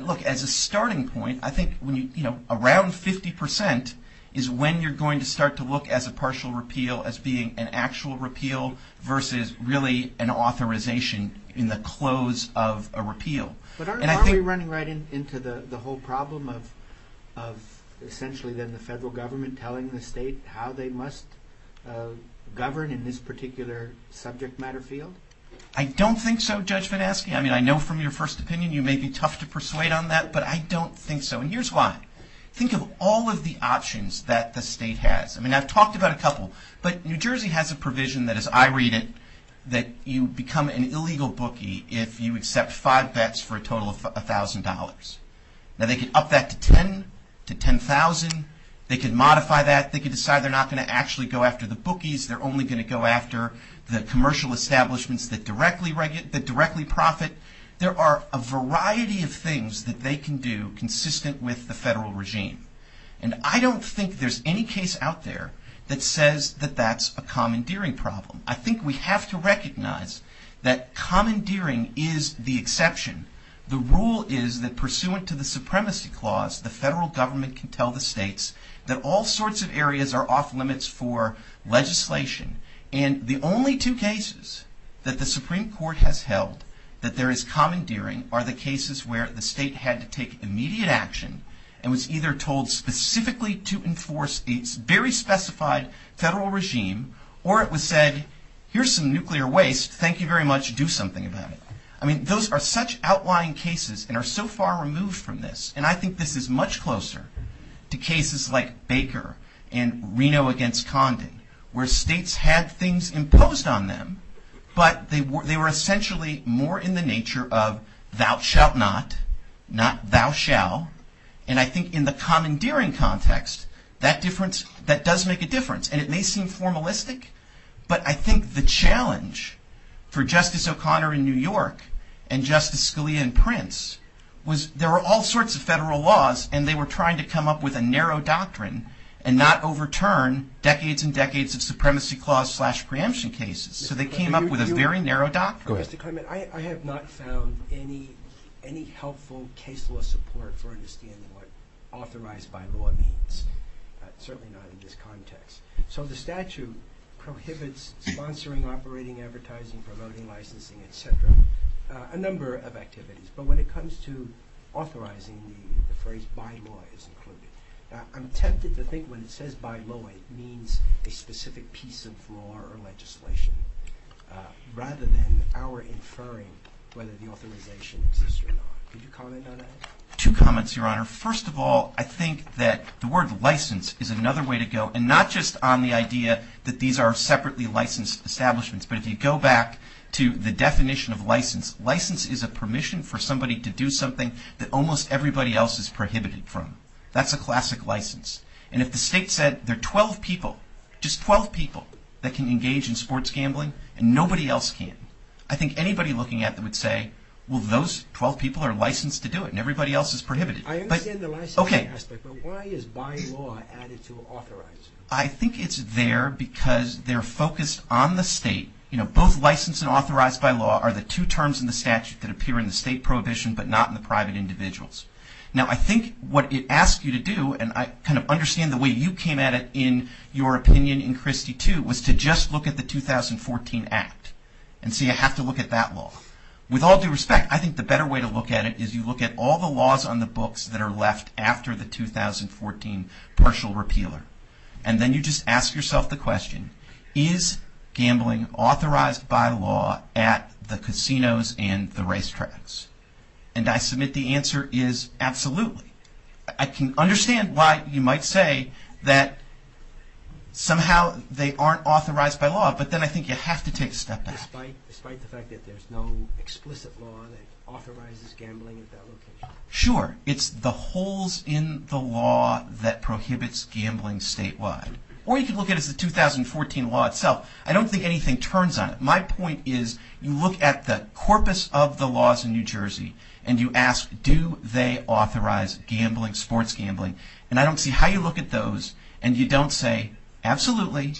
look, as a starting point, I think around 50% is when you're going to start to look at a partial repeal as being an actual repeal versus really an authorization in the close of a repeal. But aren't we running right into the whole problem of essentially then the federal government telling the state how they must govern in this particular subject matter field? I don't think so, Judge Van Asken. I mean, I know from your first opinion you may be tough to persuade on that, but I don't think so, and here's why. Think of all of the options that the state has. I mean, I've talked about a couple, but New Jersey has a provision that, as I read it, that you become an illegal bookie if you accept five bets for a total of $1,000. Now, they can up that to $10,000. They can modify that. They can decide they're not going to actually go after the bookies. They're only going to go after the commercial establishments that directly profit. There are a variety of things that they can do consistent with the federal regime, and I don't think there's any case out there that says that that's a commandeering problem. I think we have to recognize that commandeering is the exception. The rule is that, pursuant to the supremacy clause, the federal government can tell the states that all sorts of areas are off limits for legislation, and the only two cases that the Supreme Court has held that there is commandeering are the cases where the state had to take immediate action and was either told specifically to enforce a very specified federal regime, or it was said, here's some nuclear waste. Thank you very much. Do something about it. I mean, those are such outlying cases and are so far removed from this, and I think this is much closer to cases like Baker and Reno against Condi, where states had things imposed on them, but they were essentially more in the nature of thou shalt not, not thou shall, and I think in the commandeering context, that does make a difference, and it may seem formalistic, but I think the challenge for Justice O'Connor in New York and Justice Scalia in Prince was there were all sorts of federal laws, and they were trying to come up with a narrow doctrine and not overturn decades and decades of supremacy clause slash preemption cases, so they came up with a very narrow doctrine. Mr. Clement, I have not found any helpful case law support for understanding what authorized by law means, certainly not in this context. So the statute prohibits sponsoring, operating, advertising, promoting, licensing, et cetera, a number of activities, but when it comes to authorizing, the phrase by law is included. I'm tempted to think when it says by law, it means a specific piece of law or legislation, rather than our inferring whether the authorization exists or not. Could you comment on that? Two comments, Your Honor. First of all, I think that the word license is another way to go, and not just on the idea that these are separately licensed establishments, but if you go back to the definition of license, license is a permission for somebody to do something that almost everybody else is prohibited from. That's a classic license. And if the state said there are 12 people, just 12 people, that can engage in sports gambling, and nobody else can, I think anybody looking at it would say, well, those 12 people are licensed to do it, and everybody else is prohibited. I understand the licensing aspect, but why is by law added to authorized? I think it's there because they're focused on the state. You know, both license and authorized by law are the two terms in the statute that appear in the state prohibition, but not in the private individuals. Now, I think what it asks you to do, and I kind of understand the way you came at it in your opinion in Christie 2, was to just look at the 2014 Act, and say I have to look at that law. With all due respect, I think the better way to look at it is you look at all the laws on the books that are left after the 2014 partial repealer, and then you just ask yourself the question, is gambling authorized by law at the casinos and the racetracks? And I submit the answer is absolutely. I can understand why you might say that somehow they aren't authorized by law, but then I think you have to take a step back. Despite the fact that there's no explicit law that authorizes gambling at that location? Sure. It's the holes in the law that prohibits gambling statewide. Or you can look at it as the 2014 law itself. I don't think anything turns on it. My point is you look at the corpus of the laws in New Jersey, and you ask do they authorize sports gambling, and I don't see how you look at those, and you don't say absolutely,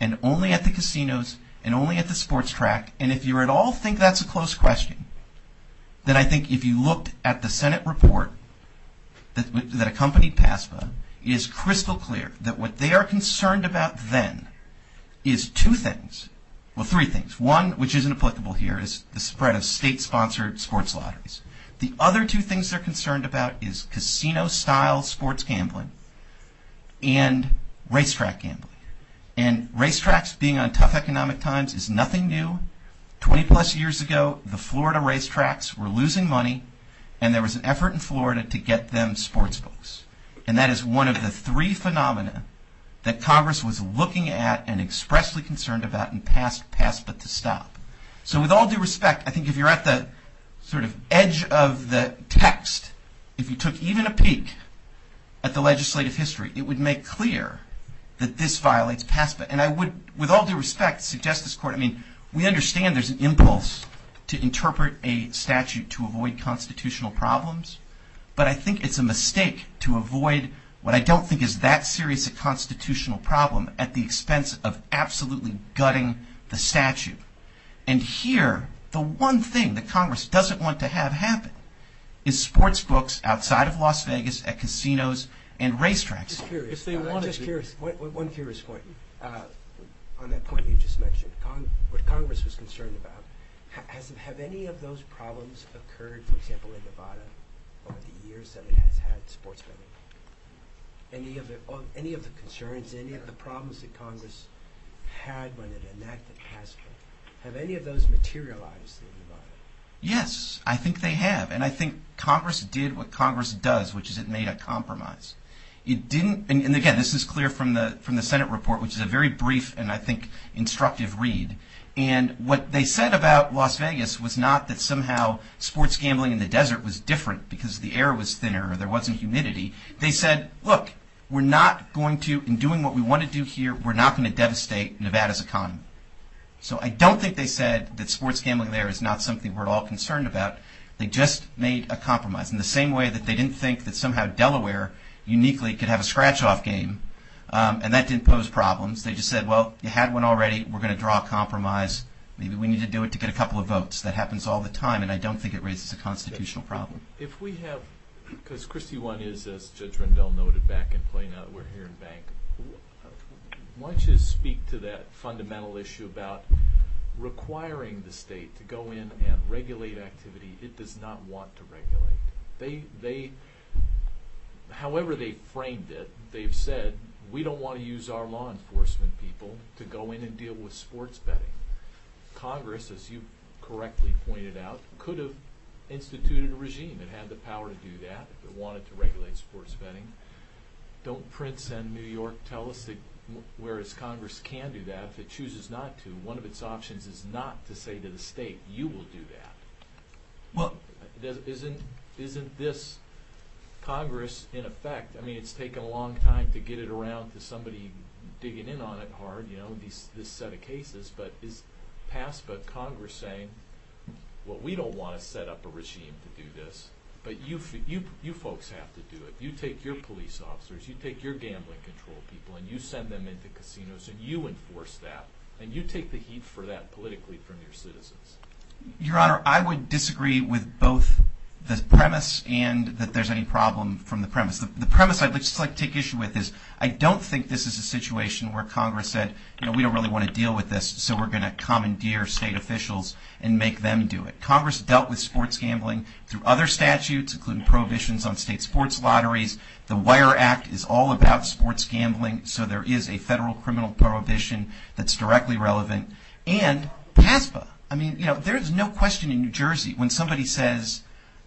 and only at the casinos and only at the sports track, and if you at all think that's a close question, then I think if you looked at the Senate report that accompanied PASPA, it is crystal clear that what they are concerned about then is two things. Well, three things. One, which isn't applicable here, is the spread of state-sponsored sports lotteries. The other two things they're concerned about is casino-style sports gambling and racetrack gambling. And racetracks being on tough economic times is nothing new. Twenty-plus years ago, the Florida racetracks were losing money, and there was an effort in Florida to get them sports goals. And that is one of the three phenomena that Congress was looking at and expressly concerned about in PASPA to stop. So with all due respect, I think if you're at the sort of edge of the text, if you took even a peek at the legislative history, it would make clear that this violates PASPA. And I would, with all due respect, suggest this court, I mean, we understand there's an impulse to interpret a statute to avoid constitutional problems, but I think it's a mistake to avoid what I don't think is that serious a constitutional problem at the expense of absolutely gutting the statute. And here, the one thing that Congress doesn't want to have happen is sports books outside of Las Vegas at casinos and racetracks. I'm just curious. One curious point. On that point you just mentioned, what Congress was concerned about, have any of those problems occurred, for example, in Nevada over the years that we haven't had sports gambling? Any of the concerns, any of the problems that Congress had when it enacted PASPA? Have any of those materialized in Nevada? Yes, I think they have, and I think Congress did what Congress does, which is it made a compromise. It didn't, and again, this is clear from the Senate report, which is a very brief and I think instructive read, and what they said about Las Vegas was not that somehow sports gambling in the desert was different because the air was thinner, there wasn't humidity. They said, look, we're not going to, in doing what we want to do here, we're not going to devastate Nevada's economy. So I don't think they said that sports gambling there is not something we're all concerned about. They just made a compromise in the same way that they didn't think that somehow Delaware, uniquely, could have a scratch-off game, and that didn't pose problems. They just said, well, you had one already, we're going to draw a compromise, maybe we need to do it to get a couple of votes. That happens all the time, and I don't think it raises a constitutional problem. If we have, because Christy wanted to, as Judge Rendell noted back in Plano, we're here in bank, I want you to speak to that fundamental issue about requiring the state to go in and regulate activities it does not want to regulate. They, however they framed it, they've said, we don't want to use our law enforcement people to go in and deal with sports betting. Congress, as you correctly pointed out, could have instituted a regime that had the power to do that, that wanted to regulate sports betting. Don't Prince and New York tell us that whereas Congress can do that, if it chooses not to, one of its options is not to say to the state, you will do that. Well, isn't this Congress, in effect, I mean it's taken a long time to get it around to somebody digging in on it hard, you know, this set of cases, but it's passed by Congress saying, well, we don't want to set up a regime to do this, but you folks have to do it. You take your police officers, you take your gambling control people, and you send them into casinos and you enforce that, and you take the heat for that politically from your citizens. Your Honor, I would disagree with both the premise and that there's any problem from the premise. The premise I'd like to take issue with is I don't think this is a situation where Congress said, you know, we don't really want to deal with this, so we're going to commandeer state officials and make them do it. Congress dealt with sports gambling through other statutes, including prohibitions on state sports lotteries. The Wire Act is all about sports gambling, so there is a federal criminal prohibition that's directly relevant. And PASPA, I mean, you know, there's no question in New Jersey when somebody says,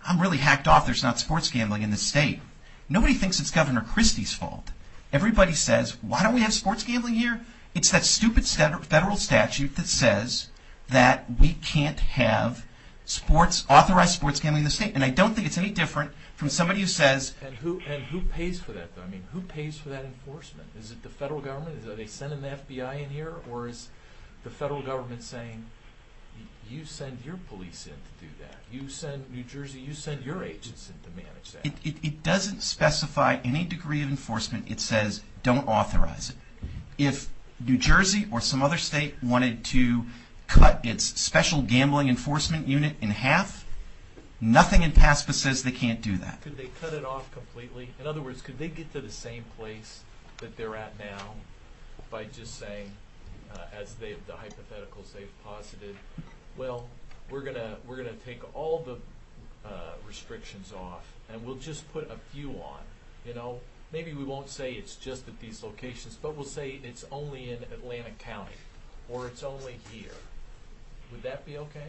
I'm really hacked off there's not sports gambling in this state. Nobody thinks it's Governor Christie's fault. Everybody says, why don't we have sports gambling here? It's that stupid federal statute that says that we can't have sports, authorized sports gambling in the state. And I don't think it's any different from somebody who says. And who pays for that? I mean, who pays for that enforcement? Is it the federal government? Is it they send an FBI in here? Or is the federal government saying, you send your police in to do that. You send New Jersey, you send your agents in to manage that. It doesn't specify any degree of enforcement. It says, don't authorize it. If New Jersey or some other state wanted to cut its special gambling enforcement unit in half, nothing in PASPA says they can't do that. Could they cut it off completely? In other words, could they get to the same place that they're at now by just saying, as the hypothetical says, positive. Well, we're going to take all the restrictions off and we'll just put a few on. Maybe we won't say it's just at these locations, but we'll say it's only in Atlantic County or it's only here. Would that be okay?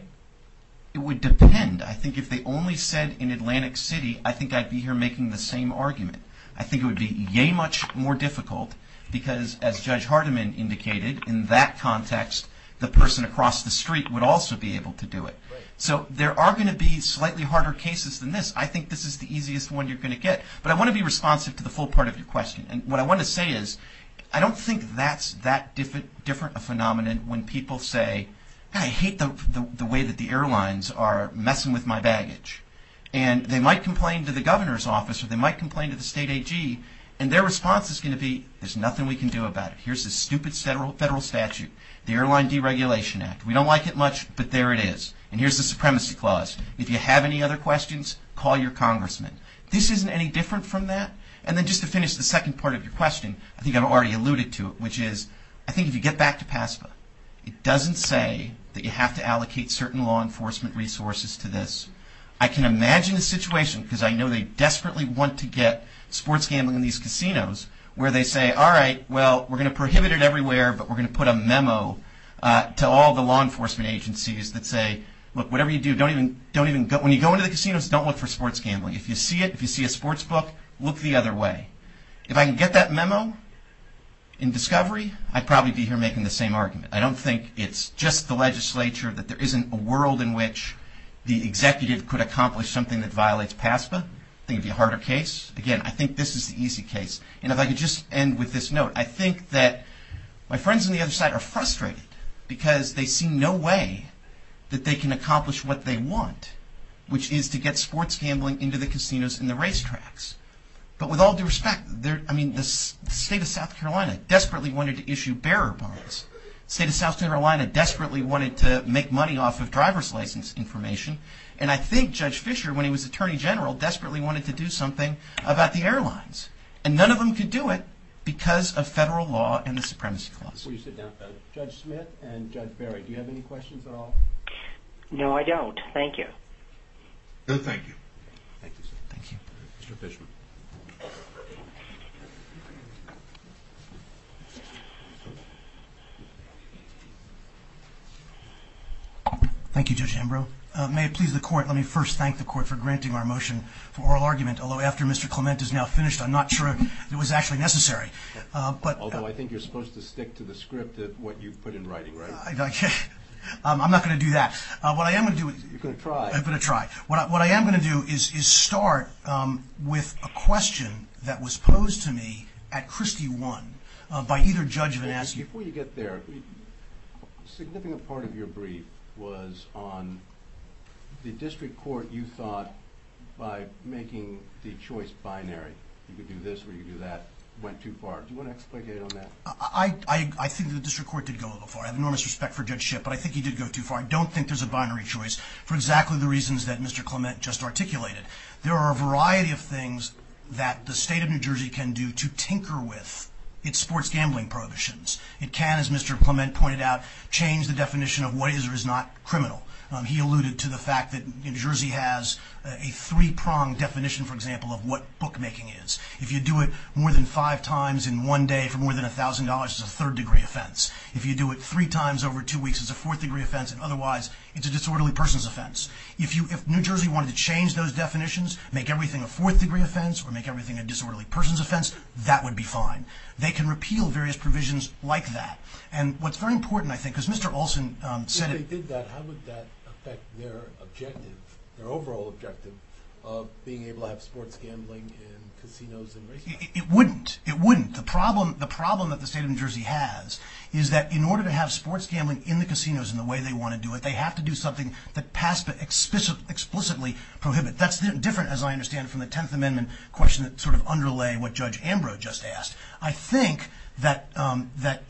It would depend. I think if they only said in Atlantic City, I think I'd be here making the same argument. I think it would be much more difficult because, as Judge Hardiman indicated, in that context the person across the street would also be able to do it. So there are going to be slightly harder cases than this. I think this is the easiest one you're going to get. But I want to be responsive to the full part of your question. And what I want to say is I don't think that's that different a phenomenon when people say, I hate the way that the airlines are messing with my baggage. And they might complain to the governor's office or they might complain to the state AG, and their response is going to be, there's nothing we can do about it. Here's the stupid federal statute, the Airline Deregulation Act. We don't like it much, but there it is. And here's the supremacy clause. If you have any other questions, call your congressman. This isn't any different from that. And then just to finish the second part of your question, I think I've already alluded to it, which is I think if you get back to PASPA, it doesn't say that you have to allocate certain law enforcement resources to this. I can imagine a situation, because I know they desperately want to get sports gambling in these casinos, where they say, all right, well, we're going to prohibit it everywhere, but we're going to put a memo to all the law enforcement agencies that say, look, whatever you do, when you go into the casinos, don't look for sports gambling. If you see it, if you see a sports book, look the other way. If I can get that memo in discovery, I'd probably be here making the same argument. I don't think it's just the legislature that there isn't a world in which the executive could accomplish something that violates PASPA. I think it would be a harder case. Again, I think this is the easy case. And if I could just end with this note, I think that my friends on the other side are frustrated because they see no way that they can accomplish what they want, which is to get sports gambling into the casinos and the racetracks. But with all due respect, I mean, the state of South Carolina desperately wanted to issue bearer bonds. The state of South Carolina desperately wanted to make money off of driver's license information. And I think Judge Fischer, when he was attorney general, desperately wanted to do something about the airlines. And none of them could do it because of federal law and the supremacy clause. Judge Smith and Judge Barry, do you have any questions at all? No, I don't. Thank you. Good. Thank you. Mr. Fischer. Thank you, Judge Ambrose. May it please the court, let me first thank the court for granting our motion for oral argument, although after Mr. Clement is now finished, I'm not sure if it was actually necessary. Although I think you're supposed to stick to the script that you put in writing, right? I'm not going to do that. You're going to try. I'm going to try. What I am going to do is start with a question that was posed to me at Christie 1 by either judge or an attorney. Before you get there, a significant part of your brief was on the district court you thought, by making the choice binary, you could do this or you could do that, went too far. Do you want to explain it on that? I think the district court did go a little far. I have enormous respect for Judge Schiff, but I think he did go too far. I don't think there's a binary choice for exactly the reasons that Mr. Clement just articulated. There are a variety of things that the state of New Jersey can do to tinker with its sports gambling prohibitions. It can, as Mr. Clement pointed out, change the definition of what is or is not criminal. He alluded to the fact that New Jersey has a three-pronged definition, for example, of what bookmaking is. If you do it more than five times in one day for more than $1,000, it's a third-degree offense. If you do it three times over two weeks, it's a fourth-degree offense. Otherwise, it's a disorderly person's offense. If New Jersey wanted to change those definitions, make everything a fourth-degree offense, or make everything a disorderly person's offense, that would be fine. They can repeal various provisions like that. What's very important, I think, is Mr. Olson said— If they did that, how would that affect their objective, their overall objective, of being able to have sports gambling in casinos and racetracks? It wouldn't. It wouldn't. The problem that the state of New Jersey has is that in order to have sports gambling in the casinos in the way they want to do it, they have to do something that PASPA explicitly prohibits. That's different, as I understand it, from the Tenth Amendment question that sort of underlay what Judge Ambrose just asked. I think that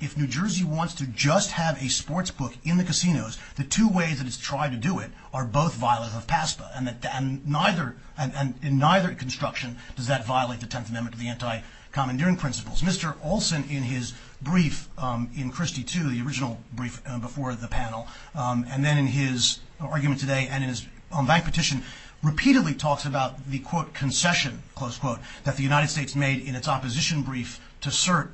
if New Jersey wants to just have a sports book in the casinos, the two ways that it's tried to do it are both violative of PASPA, and in neither construction does that violate the Tenth Amendment to the anti-commandeering principles. Mr. Olson, in his brief in Christie II, the original brief before the panel, and then in his argument today and in his own bank petition, repeatedly talks about the, quote, concession, close quote, that the United States made in its opposition brief to cert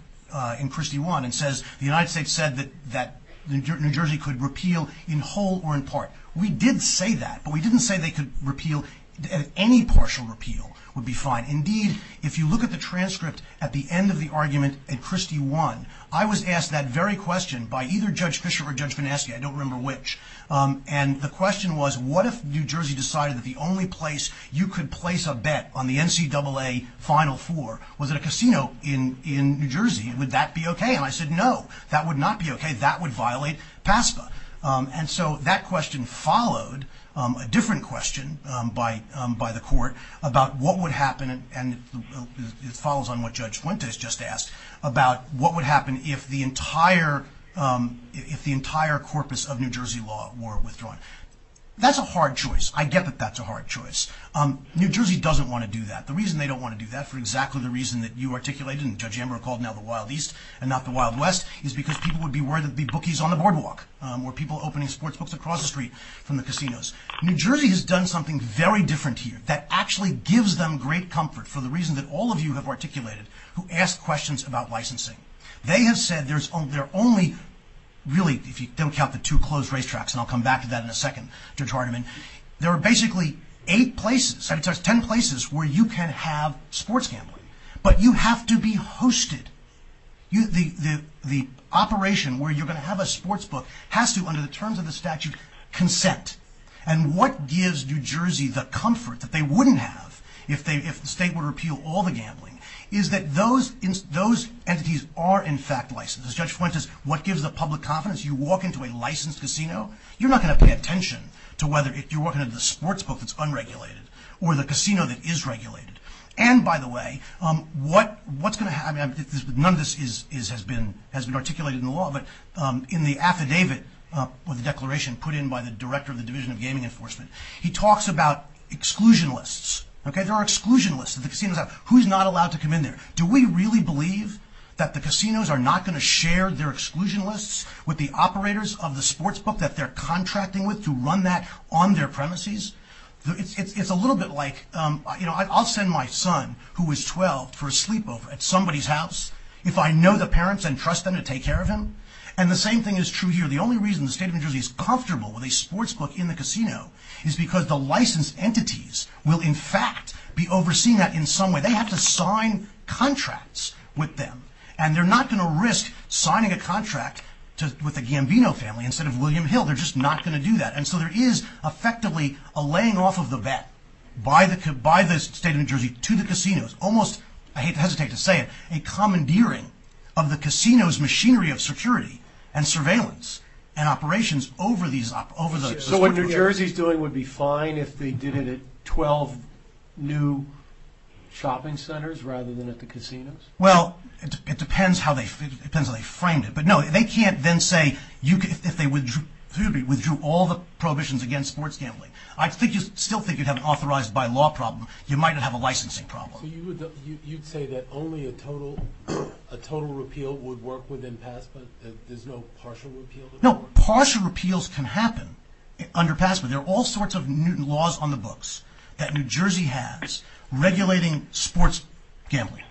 in Christie I, and says the United States said that New Jersey could repeal in whole or in part. We did say that, but we didn't say they could repeal any partial repeal would be fine. Indeed, if you look at the transcript at the end of the argument in Christie I, I was asked that very question by either Judge Bishop or Judge Goneski, I don't remember which, and the question was, what if New Jersey decided that the only place you could place a bet on the NCAA Final Four was at a casino in New Jersey, would that be okay? And I said, no, that would not be okay, that would violate PASPA. And so that question followed a different question by the court about what would happen, and it follows on what Judge Fuentes just asked, about what would happen if the entire, if the entire corpus of New Jersey law were withdrawn. That's a hard choice, I get that that's a hard choice. New Jersey doesn't want to do that. The reason they don't want to do that, for exactly the reason that you articulated, and Judge Amber recalled now the Wild East and not the Wild West, is because people would be worried there would be bookies on the boardwalk, or people opening sports books across the street from the casinos. New Jersey has done something very different here that actually gives them great comfort for the reason that all of you have articulated, who asked questions about licensing. They have said there's only, really, if you don't count the two closed racetracks, and I'll come back to that in a second, Judge Hardiman, there are basically eight places, ten places where you can have sports gambling, but you have to be hosted. The operation where you're going to have a sports book has to, under the terms of the statute, consent. And what gives New Jersey the comfort that they wouldn't have if the state were to repeal all the gambling, is that those entities are in fact licensed. As Judge Fuentes says, what gives the public confidence? You walk into a licensed casino, you're not going to pay attention to whether you're walking into the sports book that's unregulated, or the casino that is regulated. And, by the way, what's going to happen, none of this has been articulated in the law, but in the affidavit or the declaration put in by the director of the Division of Gaming Enforcement, he talks about exclusion lists. There are exclusion lists that the casinos have. Who's not allowed to come in there? Do we really believe that the casinos are not going to share their exclusion lists with the operators of the sports book that they're contracting with to run that on their premises? It's a little bit like, you know, I'll send my son, who is 12, for a sleepover at somebody's house if I know the parents and trust them to take care of him. And the same thing is true here. The only reason the state of New Jersey is comfortable with a sports book in the casino is because the licensed entities will in fact be overseeing that in some way. They have to sign contracts with them. And they're not going to risk signing a contract with the Gambino family instead of William Hill. They're just not going to do that. And so there is effectively a laying off of the vet by the state of New Jersey to the casinos, almost, I hate to hesitate to say it, a commandeering of the casino's machinery of security and surveillance and operations over the sports book. So what New Jersey is doing would be fine if they did it at 12 new shopping centers rather than at the casinos? Well, it depends how they framed it. But no, they can't then say, if they withdrew all the prohibitions against sports gambling. I still think you'd have an authorized by law problem. You might not have a licensing problem. So you'd say that only a total repeal would work within PASPA? There's no partial repeal? No, partial repeals can happen under PASPA. There are all sorts of laws on the books that New Jersey has regulating sports gambling.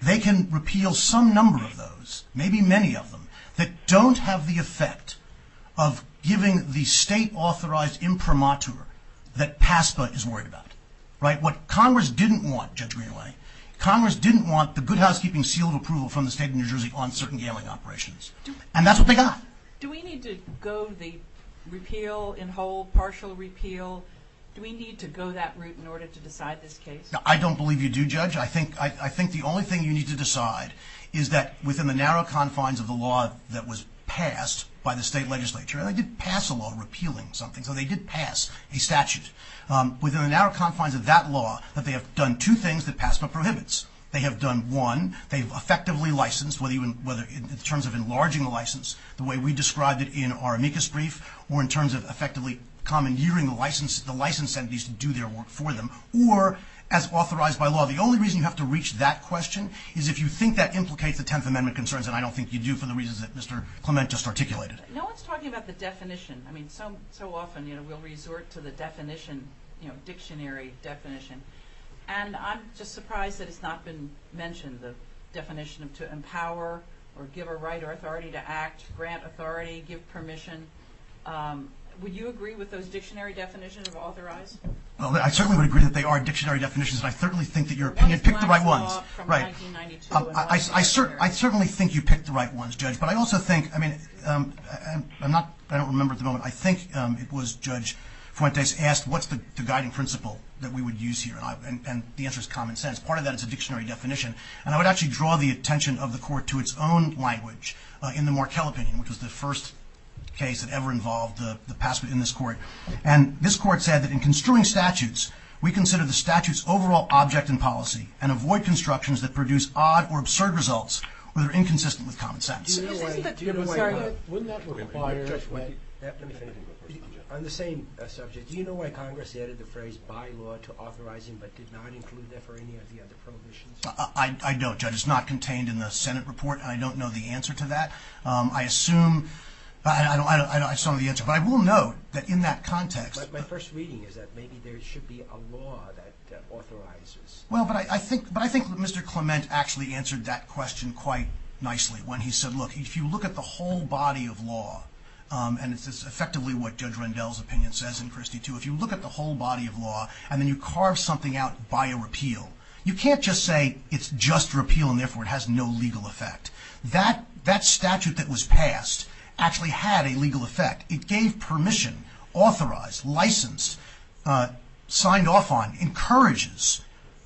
They can repeal some number of those, maybe many of them, that don't have the effect of giving the state-authorized imprimatur that PASPA is worried about. What Congress didn't want, Judge McElhinney, Congress didn't want the good housekeeping seal of approval from the state of New Jersey on certain gambling operations. And that's what they got. Do we need to go the repeal and whole partial repeal? Do we need to go that route in order to decide this case? I don't believe you do, Judge. I think the only thing you need to decide is that within the narrow confines of the law that was passed by the state legislature, and they did pass a law repealing something, so they did pass a statute. Within the narrow confines of that law, that they have done two things that PASPA prohibits. They have done, one, they've effectively licensed, whether in terms of enlarging the license, the way we described it in our amicus brief, or in terms of effectively commandeering the license entities to do their work for them, or as authorized by law. The only reason you have to reach that question is if you think that implicates the Tenth Amendment concerns, and I don't think you do for the reasons that Mr. Clement just articulated. No one's talking about the definition. I mean, so often we'll resort to the definition, you know, dictionary definition. And I'm just surprised that it's not been mentioned, the definition of to empower or give a right or authority to act, grant authority, give permission. Would you agree with those dictionary definitions of authorized? Well, I certainly would agree that they are dictionary definitions. I certainly think that your opinion, pick the right ones. Right. I certainly think you picked the right ones, Judge. But I also think, I mean, I'm not, I don't remember at the moment. I think it was Judge Fuentes asked, what's the guiding principle that we would use here? And the answer is common sense. Part of that is a dictionary definition. And I would actually draw the attention of the court to its own language in the Markell opinion, which was the first case that ever involved the PASPA in this court. And this court said that in construing statutes, we consider the statutes overall object in policy and avoid constructions that produce odd or absurd results where they're inconsistent with common sense. On the same subject, do you know why Congress added the phrase bylaw to authorizing, but did not include that for any of the other prohibitions? I don't, Judge. It's not contained in the Senate report. I don't know the answer to that. I assume, I don't have some of the answers, but I will know that in that context, but my first reading is that maybe there should be a law that authorizes. Well, but I think, but I think Mr. Clement actually answered that question quite nicely when he said, look, if you look at the whole body of law, and it's effectively what Judge Rendell's opinion says in Christie too, if you look at the whole body of law and then you carve something out by a repeal, you can't just say it's just repeal. And therefore it has no legal effect that that statute that was passed actually had a legal effect. It gave permission, authorized, license, signed off on, encourages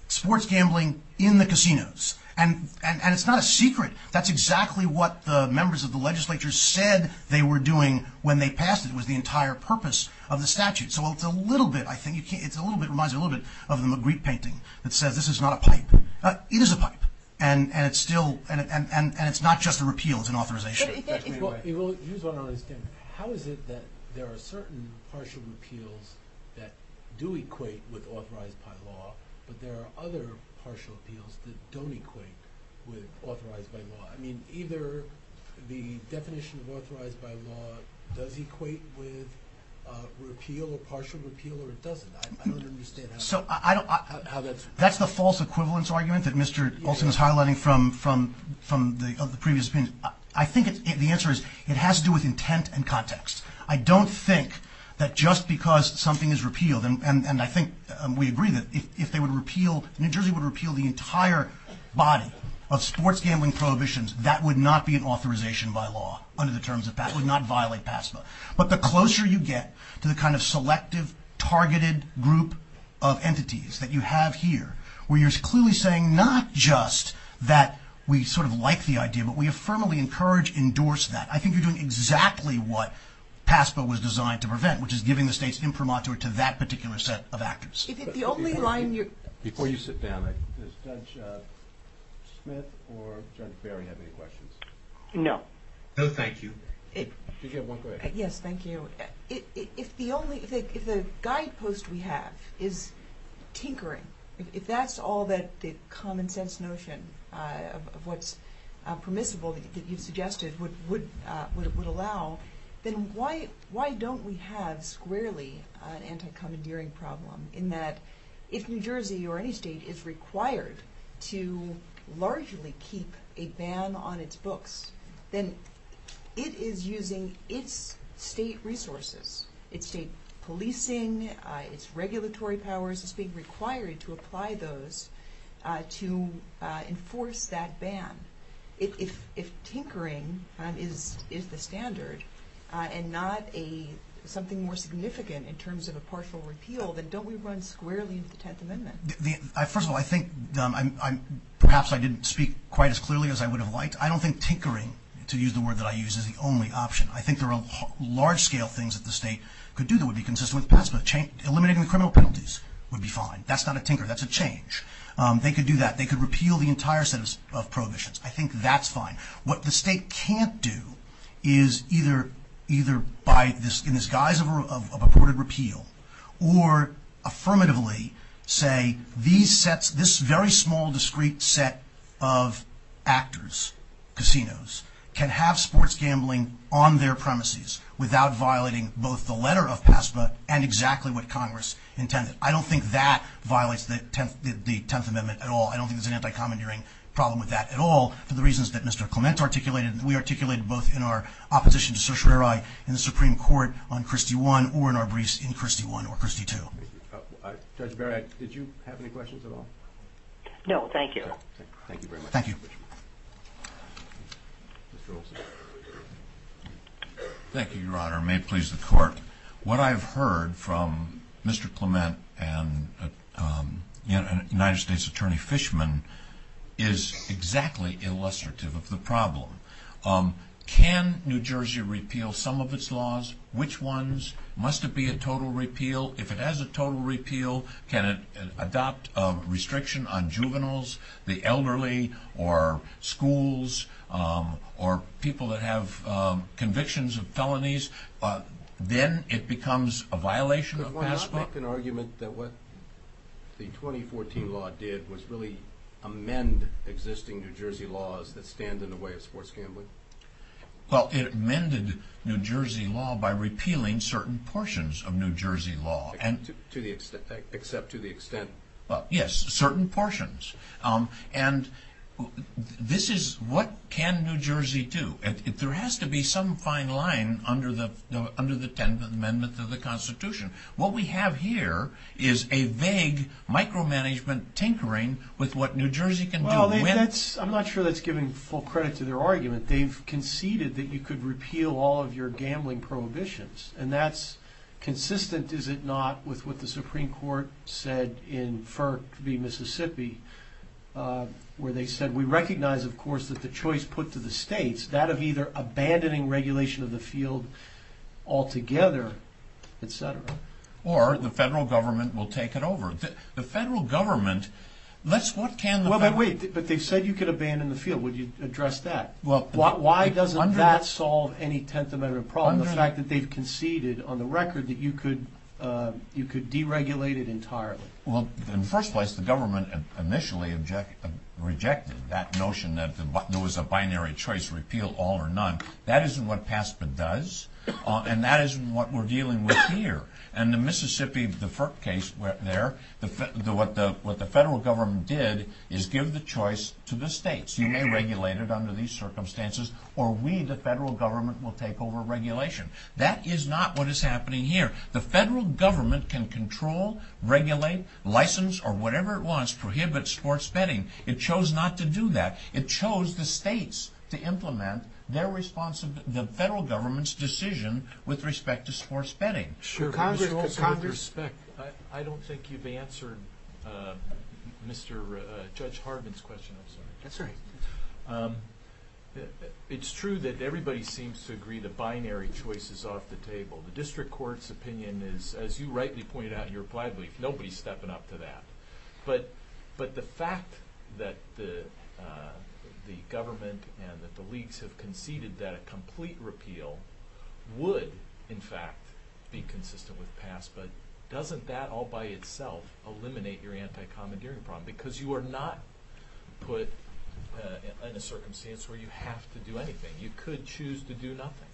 sports gambling in the casinos. And it's not a secret. That's exactly what the members of the legislature said they were doing when they passed it was the entire purpose of the statute. So it's a little bit, I think it's a little bit, it reminds me a little bit of the McRee painting that said, this is not a pipe. It is a pipe. And it's still, and it's not just a repeal, it's an authorization. How is it that there are certain partial repeals that do equate with authorized by law, but there are other partial appeals that don't equate with authorized by law? I mean, either the definition of authorized by law does equate with repeal or partial repeal or it doesn't. I don't understand how that's. That's the false equivalence argument that Mr. Olson was highlighting from the previous opinion. I think the answer is it has to do with intent and context. I don't think that just because something is repealed and I think we agree that if they would repeal, New Jersey would repeal the entire body of sports gambling prohibitions, that would not be an authorization by law under the terms of that would not violate PASPA. But the closer you get to the kind of selective targeted group of entities that you have here where you're clearly saying not just that we sort of like the idea, but we have firmly encouraged, endorsed that. I think you're doing exactly what PASPA was designed to prevent, which is giving the state's imprimatur to that particular set of actors. Before you sit down, does Judge Smith or Judge Ferry have any questions? No. No, thank you. Yes, thank you. If the guidepost we have is tinkering, if that's all that the common sense notion of what's permissible that you suggested would allow, then why don't we have squarely an anti-commandeering problem in that if New Jersey or any state is required to largely keep a ban on its books, then it is using its state resources, its state policing, its regulatory powers, its state requiry to apply those to enforce that ban. If tinkering is the standard and not something more significant in terms of a partial repeal, then don't we run squarely with the Tenth Amendment? First of all, I think perhaps I didn't speak quite as clearly as I would have liked. I don't think tinkering, to use the word that I use, is the only option. I think there are large-scale things that the state could do that would be consistent with the past. Eliminating criminal penalties would be fine. That's not a tinkerer. That's a change. They could do that. They could repeal the entire set of prohibitions. I think that's fine. What the state can't do is either by, in the guise of a reported repeal, or affirmatively say this very small, discrete set of actors, casinos, can have sports gambling on their premises without violating both the letter of PASPA and exactly what Congress intended. I don't think that violates the Tenth Amendment at all. I don't think there's an anti-commandeering problem with that at all, for the reasons that Mr. Clement articulated and we articulated both in our opposition to certiorari in the Supreme Court on Christie I or in our briefs in Christie I or Christie II. Judge Barrett, did you have any questions at all? No, thank you. Thank you very much. Thank you. Thank you, Your Honor. May it please the Court. What I've heard from Mr. Clement and United States Attorney Fishman is exactly illustrative of the problem. Can New Jersey repeal some of its laws? Which ones? Must it be a total repeal? If it has a total repeal, can it adopt a restriction on juveniles, the elderly, or schools, or people that have convictions of felonies? Then it becomes a violation of PASPA. But why not make an argument that what the 2014 law did was really amend existing New Jersey laws that stand in the way of sports gambling? Well, it amended New Jersey law by repealing certain portions of New Jersey law. Except to the extent? Yes, certain portions. And this is what can New Jersey do? There has to be some fine line under the 10th Amendment to the Constitution. What we have here is a vague micromanagement tinkering with what New Jersey can do. I'm not sure that's giving full credit to their argument. They've conceded that you could repeal all of your gambling prohibitions, and that's consistent, is it not, with what the Supreme Court said in Mississippi, where they said, we recognize, of course, that the choice put to the states, that of either abandoning regulation of the field altogether, et cetera. Or the federal government will take it over. The federal government, what can the federal government do? But wait, they said you could abandon the field. Would you address that? Why doesn't that solve any 10th Amendment problem, the fact that they've conceded on the record that you could deregulate it entirely? Well, in the first place, the government initially rejected that notion that there was a binary choice, repeal all or none. That isn't what PASPA does, and that isn't what we're dealing with here. And the Mississippi case there, what the federal government did is give the choice to the states. You may regulate it under these circumstances, or we, the federal government, will take over regulation. That is not what is happening here. The federal government can control, regulate, license, or whatever it wants, prohibit sports betting. It chose not to do that. It chose the states to implement the federal government's decision with respect to sports betting. Congress, I don't think you've answered Judge Harden's question. It's true that everybody seems to agree the binary choice is off the table. The district court's opinion is, as you rightly pointed out in your reply week, nobody's stepping up to that. But the fact that the government and that the leagues have conceded that complete repeal would, in fact, be consistent with PASPA, doesn't that all by itself eliminate your anti-commandeering problem? Because you are not put in a circumstance where you have to do anything. You couldn't choose to do nothing.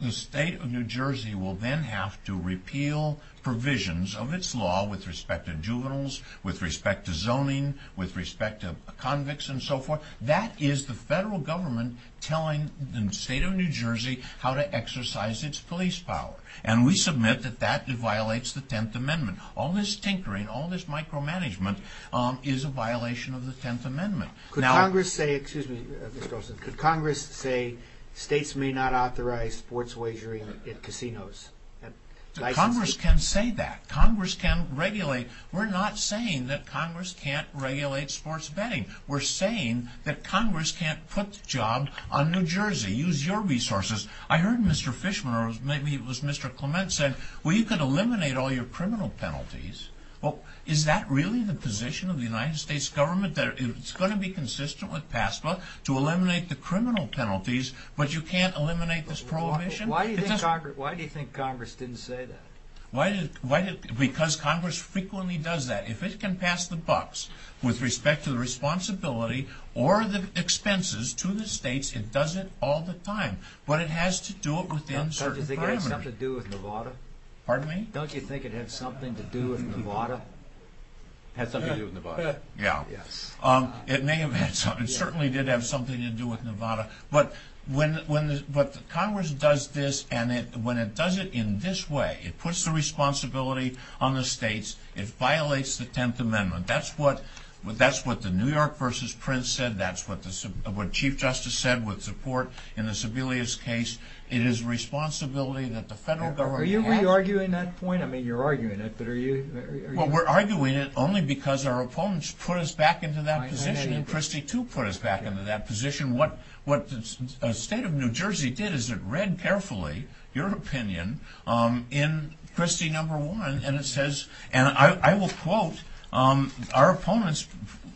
The state of New Jersey will then have to repeal provisions of its law with respect to juveniles, with respect to zoning, with respect to convicts and so forth. That is the federal government telling the state of New Jersey how to exercise its police power. And we submit that that violates the Tenth Amendment. All this tinkering, all this micromanagement is a violation of the Tenth Amendment. Could Congress say states may not authorize sports wagering at casinos? Congress can say that. Congress can regulate. We're not saying that Congress can't regulate sports betting. We're saying that Congress can't put jobs on New Jersey, use your resources. I heard Mr. Fishman or maybe it was Mr. Clement say, well, you could eliminate all your criminal penalties. Well, is that really the position of the United States government, that it's going to be consistent with PASPA to eliminate the criminal penalties, but you can't eliminate this prohibition? Why do you think Congress didn't say that? Because Congress frequently does that. If it can pass the bucks with respect to the responsibility or the expenses to the states, it does it all the time. But it has to do it within certain parameters. Don't you think it has something to do with Nevada? Pardon me? Don't you think it has something to do with Nevada? It has something to do with Nevada. Yeah. It may have had something. It certainly did have something to do with Nevada. But Congress does this, and when it does it in this way, it puts the responsibility on the states. It violates the Tenth Amendment. That's what the New York v. Prince said. That's what Chief Justice said with support in the Sebelius case. It is a responsibility that the federal government has. Are you really arguing that point? I mean, you're arguing it, but are you? Well, we're arguing it only because our opponents put us back into that position, and Christie, too, put us back into that position. What the state of New Jersey did is it read carefully your opinion in Christie No. 1, and it says, and I will quote, our opponents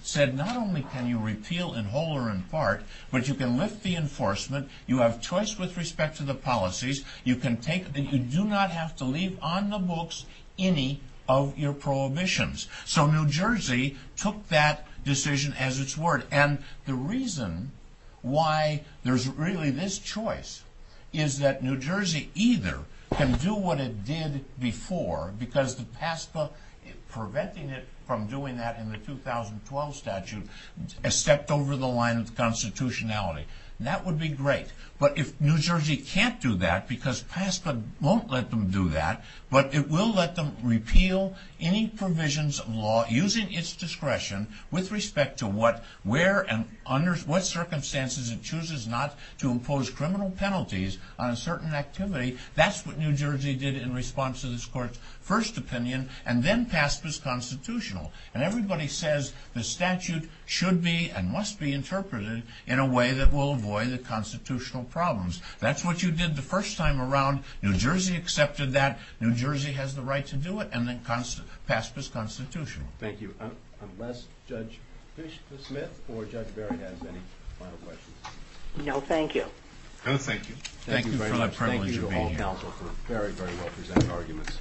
said, not only can you repeal in whole or in part, but you can lift the enforcement, you have choice with respect to the policies, you do not have to leave on the books any of your prohibitions. So New Jersey took that decision as its word. And the reason why there's really this choice is that New Jersey either can do what it did before, because PASPA, preventing it from doing that in the 2012 statute, has stepped over the line of constitutionality. That would be great. But if New Jersey can't do that because PASPA won't let them do that, but it will let them repeal any provisions of law using its discretion with respect to where and under what circumstances it chooses not to impose criminal penalties on certain activity, that's what New Jersey did in response to this court's first opinion, and then PASPA's constitutional. And everybody says the statute should be and must be interpreted in a way that will avoid the constitutional problems. That's what you did the first time around. New Jersey accepted that. New Jersey has the right to do it, and then PASPA's constitutional. Thank you. Unless Judge Fish-Smith or Judge Berry has any final questions. No, thank you. No, thank you. Thank you very much. Thank you for being counsel. Thank you for your very, very well-presented arguments.